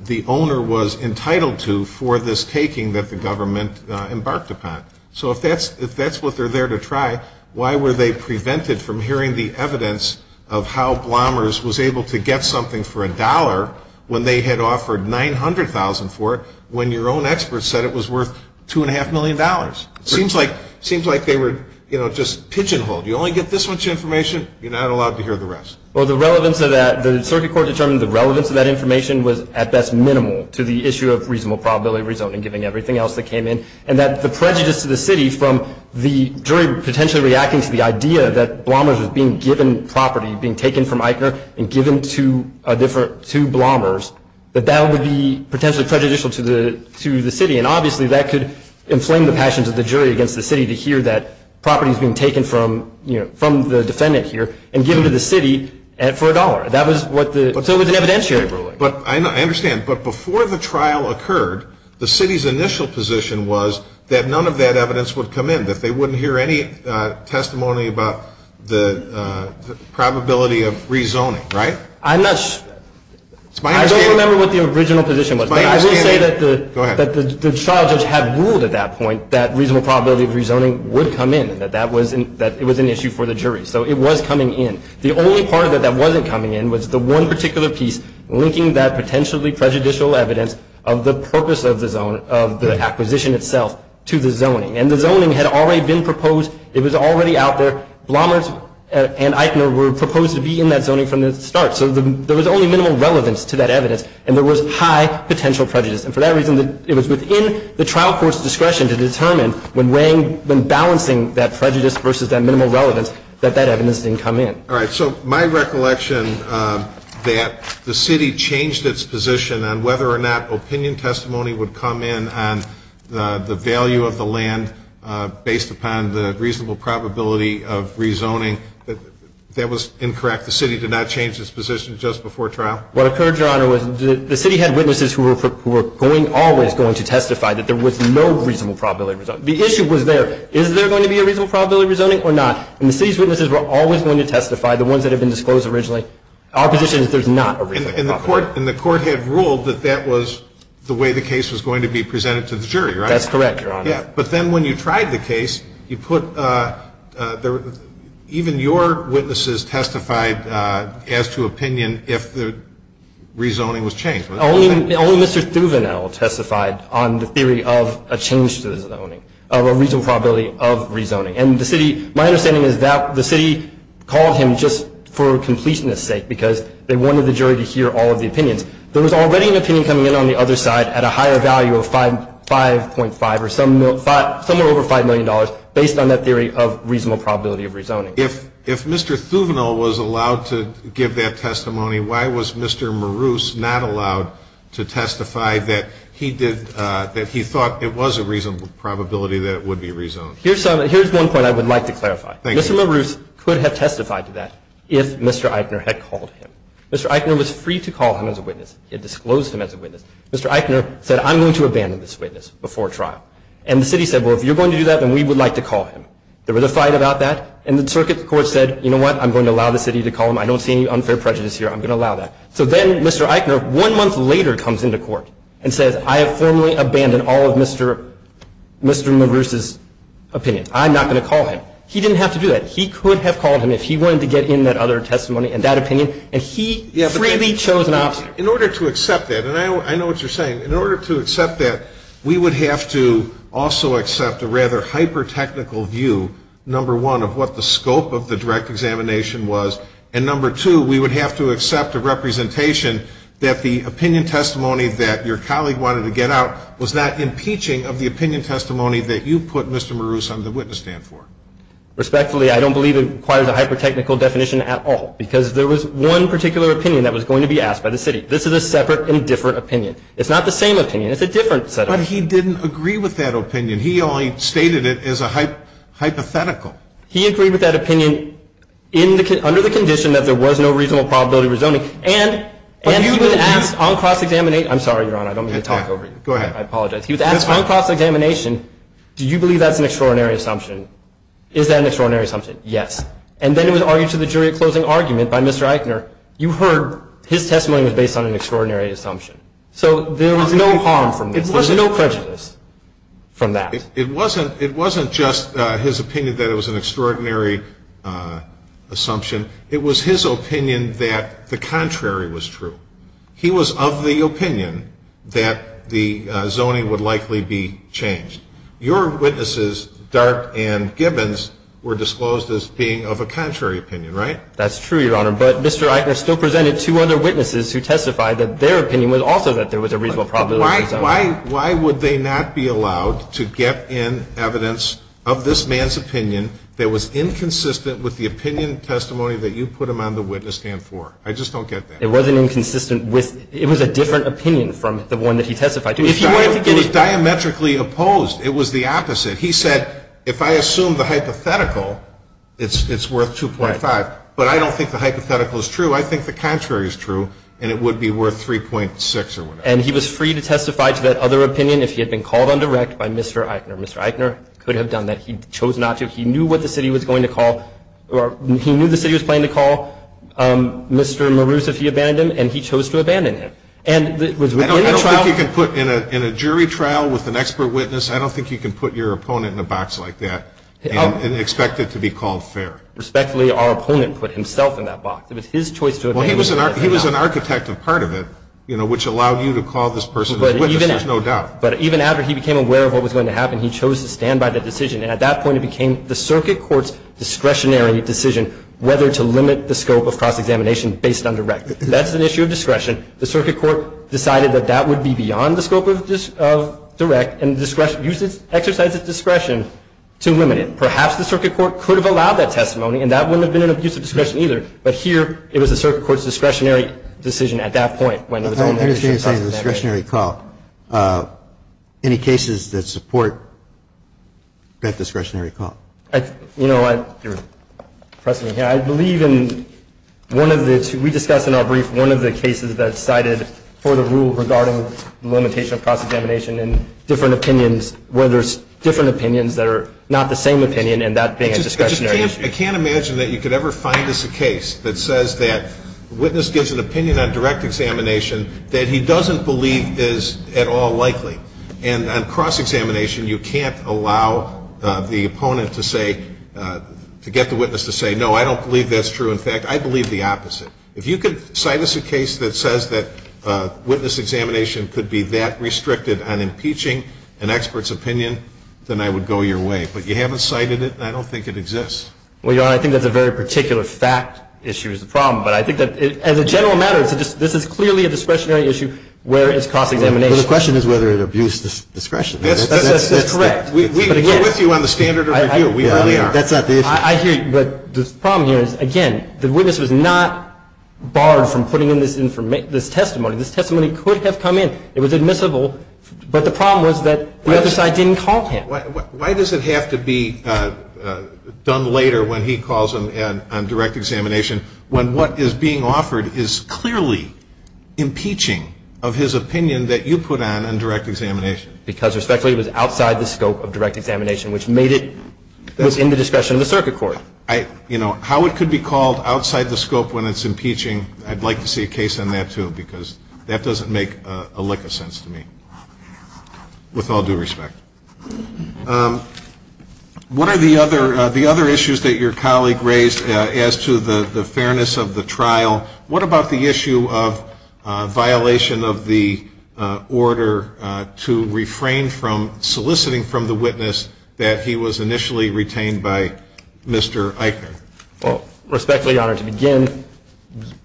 the owner was entitled to for this taking that the government embarked upon. So if that's what they're there to try, why were they prevented from hearing the evidence of how Blomers was able to get something for a dollar when they had offered $900,000 for it when your own experts said it was worth $2.5 million? It seems like they were just pigeonholed. You only get this much information. You're not allowed to hear the rest. Well, the circuit court determined the relevance of that information was at best minimal to the issue of reasonable probability of rezoning, giving everything else that came in, and that the prejudice to the city from the jury potentially reacting to the idea that Blomers was being given property, being taken from ICA and given to Blomers, that that would be potentially prejudicial to the city. And obviously that could inflame the passions of the jury against the city to hear that property is being taken from the defendant here and given to the city for a dollar. So it was an evidentiary ruling. I understand. But before the trial occurred, the city's initial position was that none of that evidence would come in, that they wouldn't hear any testimony about the probability of rezoning, right? I'm not sure. I don't remember what the original position was. But I will say that the charges have ruled at that point that reasonable probability of rezoning would come in, that it was an issue for the jury. So it was coming in. The only part of it that wasn't coming in was the one particular piece linking that potentially prejudicial evidence of the purpose of the acquisition itself to the zoning. And the zoning had already been proposed. It was already out there. Blomers and ICA were proposed to be in that zoning from the start. So there was only minimal relevance to that evidence, and there was high potential prejudice. And for that reason, it was within the trial court's discretion to determine when balancing that prejudice versus that minimal relevance that that evidence didn't come in. All right. So my recollection that the city changed its position on whether or not opinion testimony would come in based upon the value of the land, based upon the reasonable probability of rezoning. That was incorrect. The city did not change its position just before trial? What occurred, Your Honor, was the city had witnesses who were always going to testify that there was no reasonable probability of rezoning. The issue was there. Is there going to be a reasonable probability of rezoning or not? And the city's witnesses were always going to testify, the ones that had been disclosed originally. Our position is there's not a reasonable probability. And the court had ruled that that was the way the case was going to be presented to the jury, right? That's correct, Your Honor. But then when you tried the case, even your witnesses testified as to opinion if the rezoning was changed. Only Mr. Thuvenel testified on the theory of a change to the zoning, of a reasonable probability of rezoning. My understanding is that the city called him just for completeness sake because they wanted the jury to hear all of the opinions. There was already an opinion coming in on the other side at a higher value of 5.5 or somewhere over $5 million based on that theory of reasonable probability of rezoning. If Mr. Thuvenel was allowed to give that testimony, why was Mr. Marouse not allowed to testify that he thought it was a reasonable probability that it would be rezoned? Here's one point I would like to clarify. Mr. Marouse could have testified to that if Mr. Eichner had called him. Mr. Eichner was free to call him as a witness. He had disclosed him as a witness. Mr. Eichner said, I'm going to abandon this witness before trial. And the city said, well, if you're going to do that, then we would like to call him. There was a fight about that. And the circuit court said, you know what? I'm going to allow the city to call him. I don't see any unfair prejudice here. I'm going to allow that. So then Mr. Eichner one month later comes into court and says, I have formally abandoned all of Mr. Marouse's opinion. I'm not going to call him. He didn't have to do that. He could have called him if he wanted to get in that other testimony and that opinion. And he freely chose not to. In order to accept that, and I know what you're saying, in order to accept that, we would have to also accept a rather hyper-technical view, number one, of what the scope of the direct examination was. And number two, we would have to accept a representation that the opinion testimony that your colleague wanted to get out was not impeaching of the opinion testimony that you put Mr. Marouse on the witness stand for. Respectfully, I don't believe it requires a hyper-technical definition at all. Because there was one particular opinion that was going to be asked by the city. This is a separate and different opinion. It's not the same opinion. It's a different set of opinions. But he didn't agree with that opinion. He only stated it as a hypothetical. He agreed with that opinion under the condition that there was no reasonable probability of rezoning. And he would act on cross-examination. I'm sorry, Your Honor. I don't mean to talk over you. Go ahead. I apologize. He would act on cross-examination. Do you believe that's an extraordinary assumption? Is that an extraordinary assumption? Yes. And then it was argued to the jury a closing argument by Mr. Eichner. You heard his testimony was based on an extraordinary assumption. So there was no harm from that. There was no prejudice from that. It wasn't just his opinion that it was an extraordinary assumption. It was his opinion that the contrary was true. He was of the opinion that the zoning would likely be changed. Your witnesses, Dart and Gibbons, were disclosed as being of a contrary opinion, right? That's true, Your Honor. But Mr. Eichner still presented two other witnesses who testified that their opinion was also that there was a reasonable probability of rezoning. Why would they not be allowed to get in evidence of this man's opinion that was inconsistent with the opinion and testimony that you put him on the witness stand for? I just don't get that. It wasn't inconsistent. It was a different opinion from the one that he testified to. It was diametrically opposed. It was the opposite. He said, if I assume the hypothetical, it's worth 2.5. But I don't think the hypothetical is true. I think the contrary is true, and it would be worth 3.6 or whatever. And he was free to testify to that other opinion if he had been called on direct by Mr. Eichner. Mr. Eichner could have done that. He chose not to. He knew what the city was going to call or he knew the city was planning to call Mr. Maroos if he abandoned him, and he chose to abandon him. I don't think you can put in a jury trial with an expert witness, I don't think you can put your opponent in a box like that and expect it to be called fair. Respectfully, our opponent put himself in that box. He was an architect of part of it, which allowed you to call this person. But even after he became aware of what was going to happen, he chose to stand by the decision, and at that point it became the circuit court's discretionary decision whether to limit the scope of cross-examination based on direct. That's an issue of discretion. The circuit court decided that that would be beyond the scope of direct and exercised its discretion to limit it. Perhaps the circuit court could have allowed that testimony, and that wouldn't have been an abuse of discretion either. But here it was the circuit court's discretionary decision at that point. The point I'm trying to make is discretionary call. Any cases that support that discretionary call? You know, I believe in one of the cases that we discussed in our brief, one of the cases that cited for the rule regarding the limitation of cross-examination and different opinions, where there's different opinions that are not the same opinion and that being a discretionary decision. I can't imagine that you could ever find this case that says that a witness gives an opinion on direct examination that he doesn't believe is at all likely. And on cross-examination, you can't allow the opponent to say, to get the witness to say, no, I don't believe that's true. In fact, I believe the opposite. If you could cite us a case that says that witness examination could be that restricted on impeaching an expert's opinion, then I would go your way. But you haven't cited it, and I don't think it exists. Well, Your Honor, I think that the very particular fact issue is the problem. But I think that as a general matter, this is clearly a discretionary issue where it's cross-examination. Well, the question is whether it abused discretion. That's correct. We agree with you on the standard of review. We are. That's not the issue. I agree. But the problem here is, again, the witness was not barred from putting in this testimony. This testimony could have come in. It was admissible. But the problem was that the other side didn't call him. Why does it have to be done later when he calls him on direct examination when what is being offered is clearly impeaching of his opinion that you put on in direct examination? Because, respectfully, it was outside the scope of direct examination, which made it within the discretion of the circuit court. You know, how it could be called outside the scope when it's impeaching, I'd like to see a case on that, too, because that doesn't make a lick of sense to me, with all due respect. One of the other issues that your colleague raised as to the fairness of the trial, what about the issue of violation of the order to refrain from soliciting from the witness that he was initially retained by Mr. Eichner? Well, respectfully, Your Honor, to begin,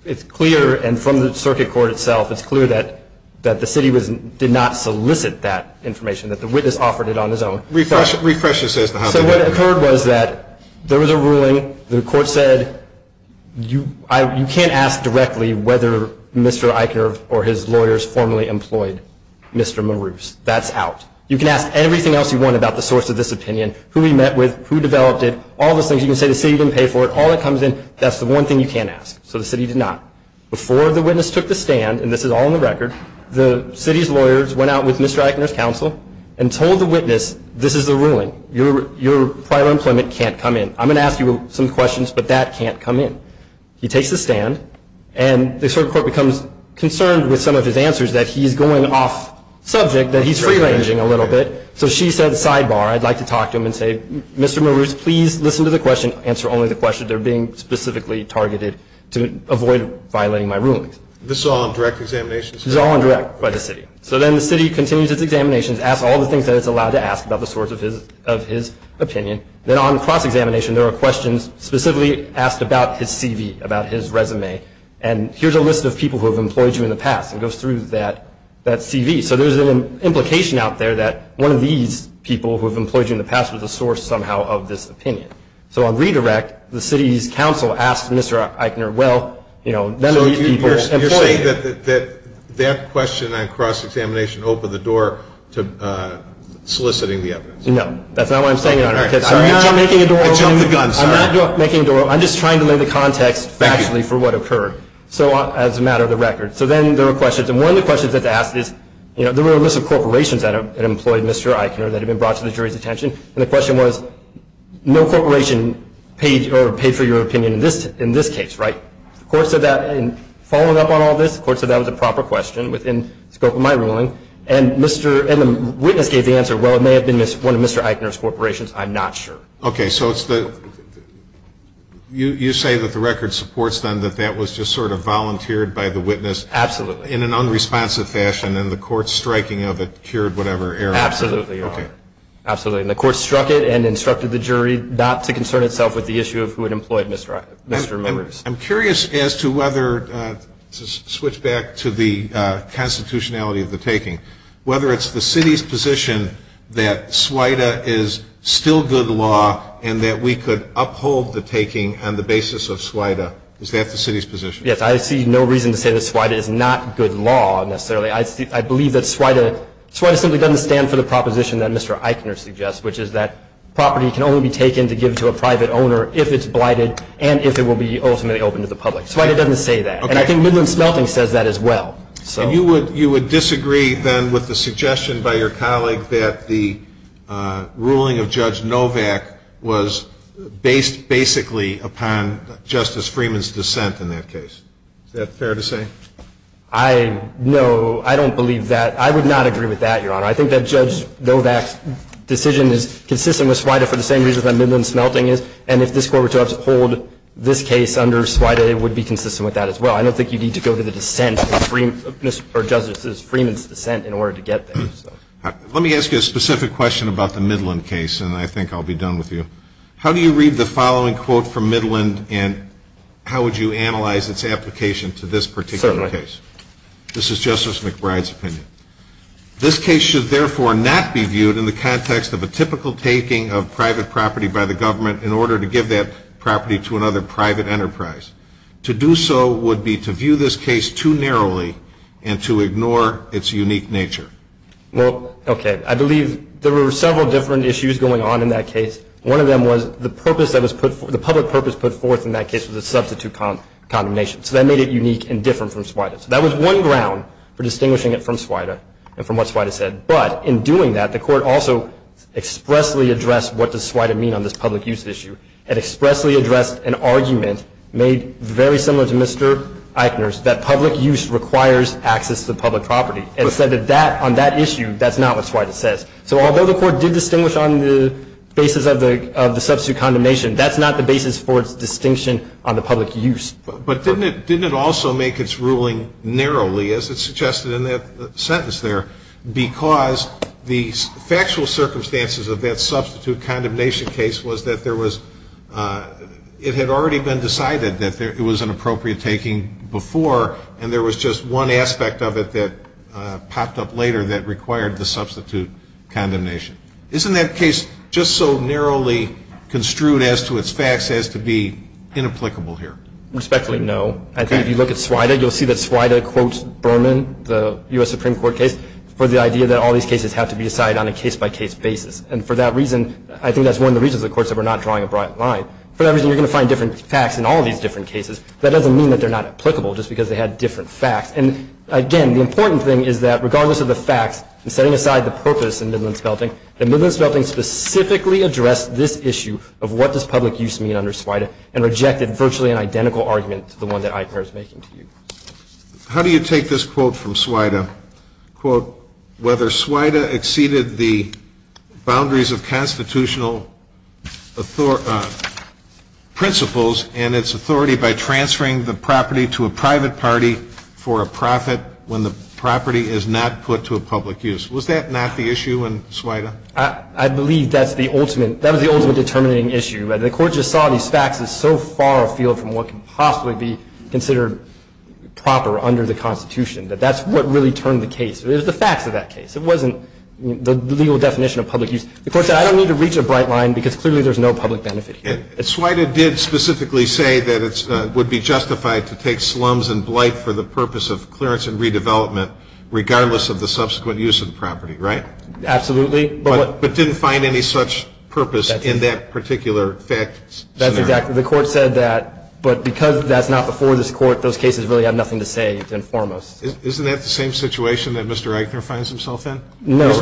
it's clear, and from the circuit court itself, it's clear that the city did not solicit that information, that the witness offered it on his own. Repressions, says the House of Representatives. So what occurred was that there was a ruling. The court said you can't ask directly whether Mr. Eichner or his lawyers formally employed Mr. Maroos. That's out. You can ask everything else you want about the source of this opinion, who he met with, who developed it, all those things. You can say the city didn't pay for it. All that comes in, that's the one thing you can't ask. So the city did not. Before the witness took the stand, and this is all on the record, the city's lawyers went out with Mr. Eichner's counsel and told the witness, this is the ruling. Your prior employment can't come in. I'm going to ask you some questions, but that can't come in. He takes the stand, and the circuit court becomes concerned with some of his answers, that he's going off subject, that he's free-ranging a little bit. So she said, sidebar, I'd like to talk to him and say, Mr. Maroos, please listen to the questions, answer only the questions that are being specifically targeted to avoid violating my rulings. This is all on direct examination? This is all on direct by the city. So then the city continues its examinations, asks all the things that it's allowed to ask about the source of his opinion. Then on cross-examination, there are questions specifically asked about his CV, about his resume, and here's a list of people who have employed you in the past. It goes through that CV. So there's an implication out there that one of these people who have employed you in the past was a source somehow of this opinion. So on redirect, the city's council asks Mr. Eichner, well, you know, none of these people employed you. So you're saying that that question on cross-examination opened the door to soliciting the evidence? No. That's not what I'm saying, Your Honor. I'm not making a door open. I'm not making a door open. I'm just trying to lay the context actually for what occurred, as a matter of the record. So then there were questions, and one of the questions that they asked is, you know, there were a list of corporations that had employed Mr. Eichner that had been brought to the jury's attention, and the question was, no corporation paid for your opinion in this case, right? Of course, following up on all this, of course, that was a proper question within the scope of my ruling, and the witness gave the answer, well, it may have been one of Mr. Eichner's corporations. I'm not sure. Okay. So you say that the record supports then that that was just sort of volunteered by the witness. Absolutely. In an unresponsive fashion, and the court's striking of it cured whatever error occurred. Absolutely, Your Honor. Absolutely. And the court struck it and instructed the jury not to concern itself with the issue of who had employed Mr. Eichner. I'm curious as to whether, to switch back to the constitutionality of the taking, whether it's the city's position that SWIDA is still good law and that we could uphold the taking on the basis of SWIDA. Is that the city's position? Yes, I see no reason to say that SWIDA is not good law, necessarily. I believe that SWIDA simply doesn't stand for the proposition that Mr. Eichner suggests, which is that property can only be taken to give to a private owner if it's blighted and if it will be ultimately open to the public. SWIDA doesn't say that. And I think Midland Smelting says that as well. You would disagree then with the suggestion by your colleague that the ruling of Judge Novak was based basically upon Justice Freeman's dissent in that case. Is that fair to say? No, I don't believe that. I would not agree with that, Your Honor. I think that Judge Novak's decision is consistent with SWIDA for the same reason that Midland Smelting is, and if this court were to uphold this case under SWIDA, it would be consistent with that as well. I don't think you need to go to the dissent of Justice Freeman's dissent in order to get there. Let me ask you a specific question about the Midland case, and I think I'll be done with you. How do you read the following quote from Midland, and how would you analyze its application to this particular case? This is Justice McBride's opinion. This case should therefore not be viewed in the context of a typical taking of private property by the government in order to give that property to another private enterprise. To do so would be to view this case too narrowly and to ignore its unique nature. Well, okay. I believe there were several different issues going on in that case. One of them was the public purpose put forth in that case was a substitute condemnation, so that made it unique and different from SWIDA. So that was one ground for distinguishing it from SWIDA and from what SWIDA said, but in doing that, the court also expressly addressed what does SWIDA mean on this public use issue and expressly addressed an argument made very similar to Mr. Eichner's that public use requires access to public property, and said that on that issue, that's not what SWIDA says. So although the court did distinguish on the basis of the substitute condemnation, that's not the basis for its distinction on the public use. But didn't it also make its ruling narrowly, as it suggested in that sentence there, because the factual circumstances of that substitute condemnation case was that there was – it had already been decided that it was an appropriate taking before, and there was just one aspect of it that popped up later that required the substitute condemnation. Isn't that case just so narrowly construed as to its facts as to be inapplicable here? Respectfully, no. I think if you look at SWIDA, you'll see that SWIDA quotes Berman, the U.S. Supreme Court case, for the idea that all these cases have to be decided on a case-by-case basis. And for that reason, I think that's one of the reasons, of course, that we're not drawing a broad line. For that reason, you're going to find different facts in all these different cases. That doesn't mean that they're not applicable just because they had different facts. And again, the important thing is that regardless of the facts, and setting aside the purpose in Midland-Spelting, the Midland-Spelting specifically addressed this issue of what does public use mean under SWIDA and rejected virtually an identical argument to the one that ICAR is making here. How do you take this quote from SWIDA? Quote, whether SWIDA exceeded the boundaries of constitutional principles and its authority by transferring the property to a private party for a profit when the property is not put to a public use. Was that not the issue in SWIDA? I believe that's the ultimate determining issue. The court just saw these facts as so far afield from what could possibly be considered proper under the Constitution, that that's what really turned the case. It was the facts of that case. It wasn't the legal definition of public use. The court said, I don't need to reach a bright line because clearly there's no public benefit here. And SWIDA did specifically say that it would be justified to take slums and blight for the purpose of clearance and redevelopment regardless of the subsequent use of the property, right? Absolutely. But didn't find any such purpose in that particular fact scenario. That's exactly right. The court said that, but because that's not before this court, those cases really have nothing to say to inform us. Isn't that the same situation that Mr. Eichner finds himself in? No. There's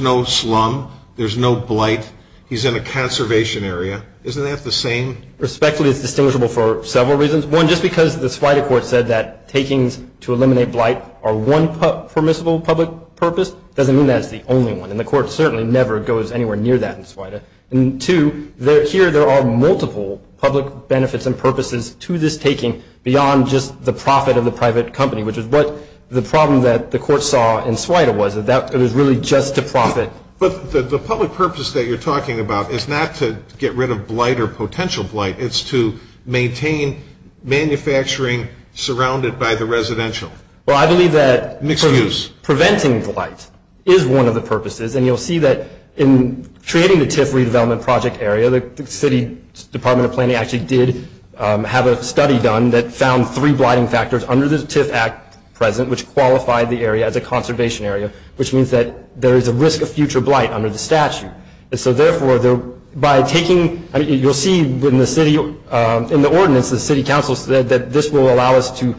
no slum. There's no blight. He's in a conservation area. Isn't that the same? Respectfully, it's distinguishable for several reasons. One, just because the SWIDA court said that takings to eliminate blight are one permissible public purpose doesn't mean that it's the only one. And the court certainly never goes anywhere near that in SWIDA. And two, here there are multiple public benefits and purposes to this taking beyond just the profit of the private company, which is what the problem that the court saw in SWIDA was that it was really just to profit. But the public purpose that you're talking about is not to get rid of blight or potential blight. It's to maintain manufacturing surrounded by the residential. Well, I believe that. Nickel use. Preventing blight is one of the purposes. And you'll see that in creating the TIF redevelopment project area, the city's Department of Planning actually did have a study done that found three blighting factors under the TIF Act present which qualified the area as a conservation area, which means that there is a risk of future blight under the statute. And so, therefore, by taking you'll see in the ordinance, the city council said that this will allow us to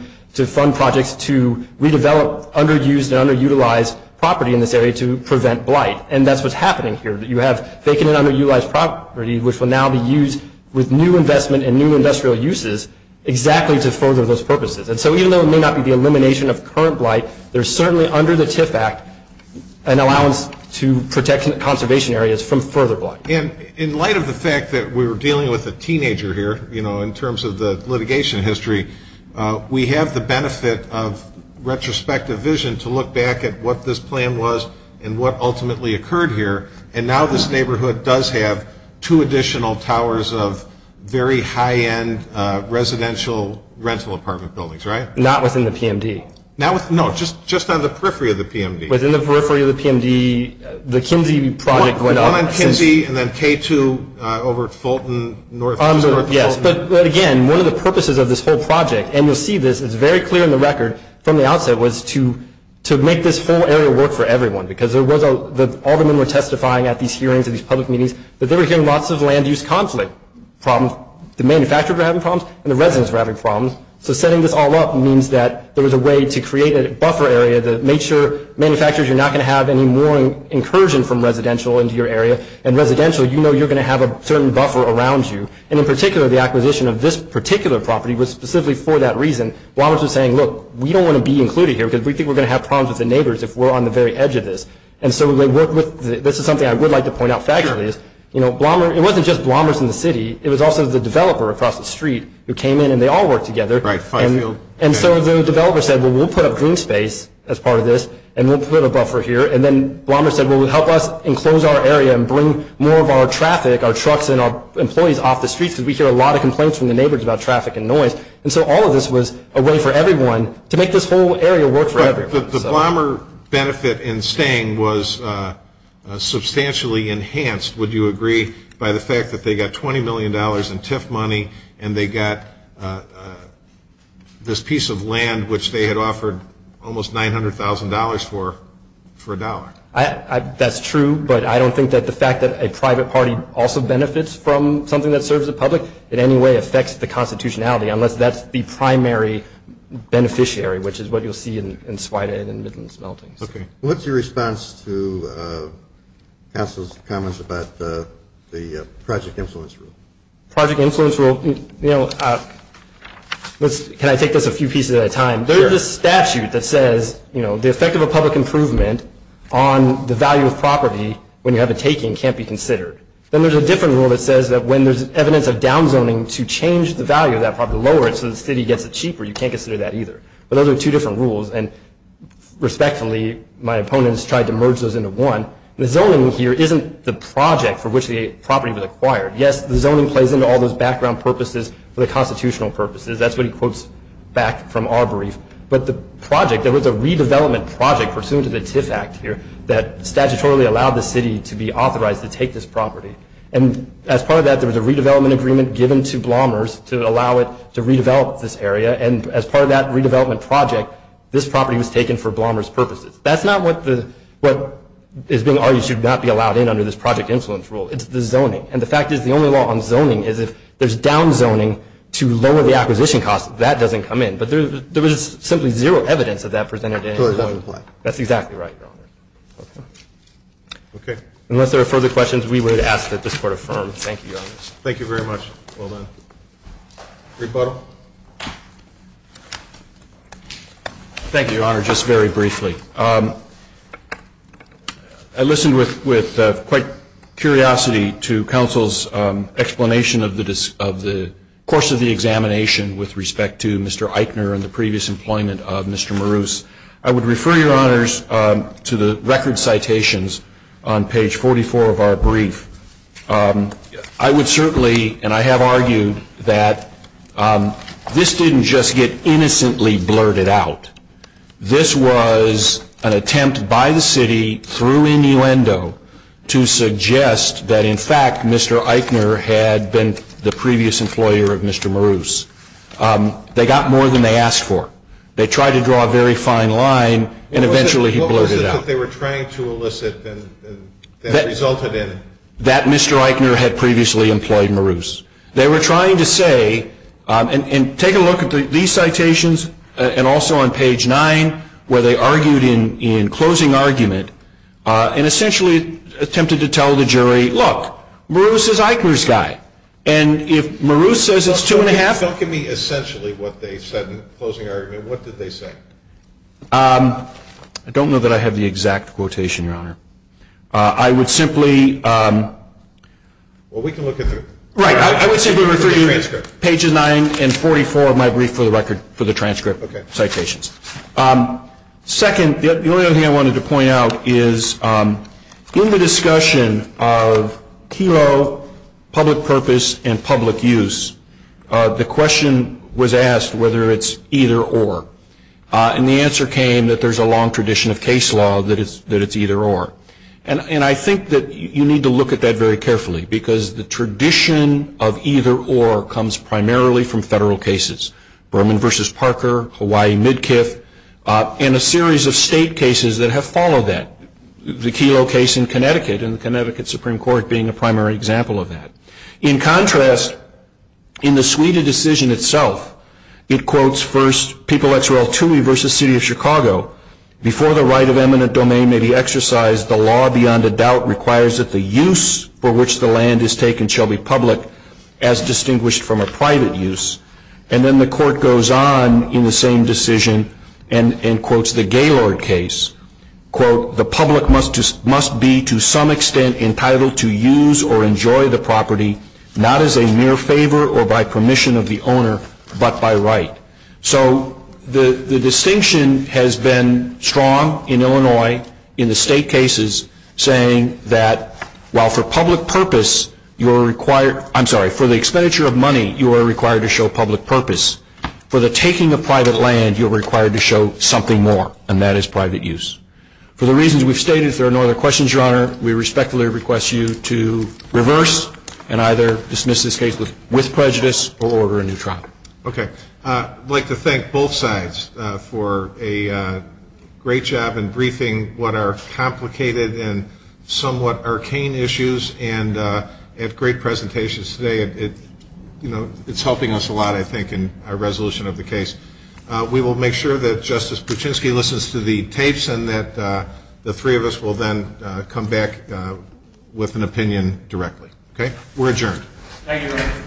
fund projects to redevelop underused and underutilized property in this area to prevent blight. And that's what's happening here. You have taken an underutilized property, which will now be used with new investment and new industrial uses exactly to further those purposes. And so even though it may not be the elimination of current blight, there's certainly under the TIF Act an allowance to protect conservation areas from further blight. And in light of the fact that we were dealing with a teenager here, you know, in terms of the litigation history, we have the benefit of retrospective vision to look back at what this plan was and what ultimately occurred here. And now this neighborhood does have two additional towers of very high-end residential rental apartment buildings, right? Not within the PMD. No, just on the periphery of the PMD. Within the periphery of the PMD. The Kinji project went up. And on Kinji and then K2 over Fulton, north of Fulton. Yes, but again, one of the purposes of this whole project, and you'll see this, it's very clear in the record from the outset, was to make this whole area work for everyone. Because all the men were testifying at these hearings and these public meetings, that they were hearing lots of land use conflict problems. The manufacturers were having problems and the residents were having problems. So setting this all up means that there was a way to create a buffer area that makes sure manufacturers are not going to have any more incursion from residential into your area. And residential, you know you're going to have a certain buffer around you. And in particular, the acquisition of this particular property was specifically for that reason. Blomers was saying, look, we don't want to be included here because we think we're going to have problems with the neighbors if we're on the very edge of this. And so they worked with, this is something I would like to point out, it wasn't just Blomers and the city, it was also the developer across the street who came in and they all worked together. And so the developer said, well, we'll put up green space as part of this and we'll put a buffer here. And then Blomers said, well, we'll help us enclose our area and bring more of our traffic, our trucks and our employees off the street because we get a lot of complaints from the neighbors about traffic and noise. And so all of this was a way for everyone to make this whole area work for everyone. The Blomers' benefit in staying was substantially enhanced, would you agree, by the fact that they got $20 million in TIF money and they got this piece of land which they had offered almost $900,000 for, for a dollar. That's true, but I don't think that the fact that a private party also benefits from something that serves the public in any way affects the constitutionality, unless that's the primary beneficiary, which is what you'll see in Swinane and the buildings. Okay. What's your response to Council's comments about the project influence rule? Project influence rule, you know, can I take this a few pieces at a time? There is a statute that says, you know, the effect of a public improvement on the value of property when you have it taken can't be considered. Then there's a different rule that says that when there's evidence of down zoning to change the value of that property, lower it so the city gets it cheaper, you can't consider that either. But those are two different rules, and respectfully, my opponents tried to merge those into one. The zoning here isn't the project for which the property was acquired. Yes, the zoning plays into all those background purposes for the constitutional purposes. That's what he quotes back from our brief. But the project, there was a redevelopment project pursuant to the TIF Act here that statutorily allowed the city to be authorized to take this property. And as part of that, there was a redevelopment agreement given to Blomers to allow it to redevelop this area. And as part of that redevelopment project, this property was taken for Blomers' purposes. That's not what is being argued should not be allowed in under this project influence rule. It's the zoning. And the fact is, the only law on zoning is if there's down zoning to lower the acquisition cost, that doesn't come in. But there is simply zero evidence of that presented anywhere. That's exactly right. Okay. Unless there are further questions, we would ask that this court affirm. Thank you. Thank you very much. Well done. Rebuttal. Thank you, Your Honor, just very briefly. I listened with quite curiosity to counsel's explanation of the course of the examination with respect to Mr. Eichner and the previous employment of Mr. Maroos. I would refer, Your Honors, to the record citations on page 44 of our brief. I would certainly, and I have argued that this didn't just get innocently blurted out. This was an attempt by the city through innuendo to suggest that, in fact, Mr. Eichner had been the previous employer of Mr. Maroos. They got more than they asked for. They tried to draw a very fine line, and eventually he blurted it out. That's what they were trying to elicit that resulted in. That Mr. Eichner had previously employed Maroos. They were trying to say, and take a look at these citations and also on page 9, where they argued in closing argument and essentially attempted to tell the jury, look, Maroos is Eichner's guy, and if Maroos says it's two and a half. Tell me essentially what they said in closing argument. What did they say? I don't know that I have the exact quotation, Your Honor. I would simply. Well, we can look at it. Right. I would simply refer you to pages 9 and 44 of my brief for the transcript citations. Second, the only other thing I wanted to point out is in the discussion of hero, public purpose, and public use, the question was asked whether it's either or. And the answer came that there's a long tradition of case law that it's either or. And I think that you need to look at that very carefully, because the tradition of either or comes primarily from federal cases, Berman v. Parker, Hawaii Midkiff, and a series of state cases that have followed that, the Kelo case in Connecticut and the Connecticut Supreme Court being a primary example of that. In contrast, in the Suida decision itself, it quotes first People v. City of Chicago. Before the right of eminent domain may be exercised, the law beyond a doubt requires that the use for which the land is taken shall be public, as distinguished from a private use. And then the court goes on in the same decision and quotes the Gaylord case. The public must be to some extent entitled to use or enjoy the property, not as a mere favor or by permission of the owner, but by right. So the distinction has been strong in Illinois in the state cases, saying that while for the expenditure of money you are required to show public purpose, for the taking of private land you are required to show something more, and that is private use. For the reasons we've stated, if there are no other questions, Your Honor, we respectfully request you to reverse and either dismiss this case with prejudice or order a new trial. Okay. I'd like to thank both sides for a great job in briefing what are complicated and somewhat arcane issues and had great presentations today. It's helping us a lot, I think, in our resolution of the case. We will make sure that Justice Kuczynski listens to the tapes and that the three of us will then come back with an opinion directly. Okay. We're adjourned. Thank you, Your Honor.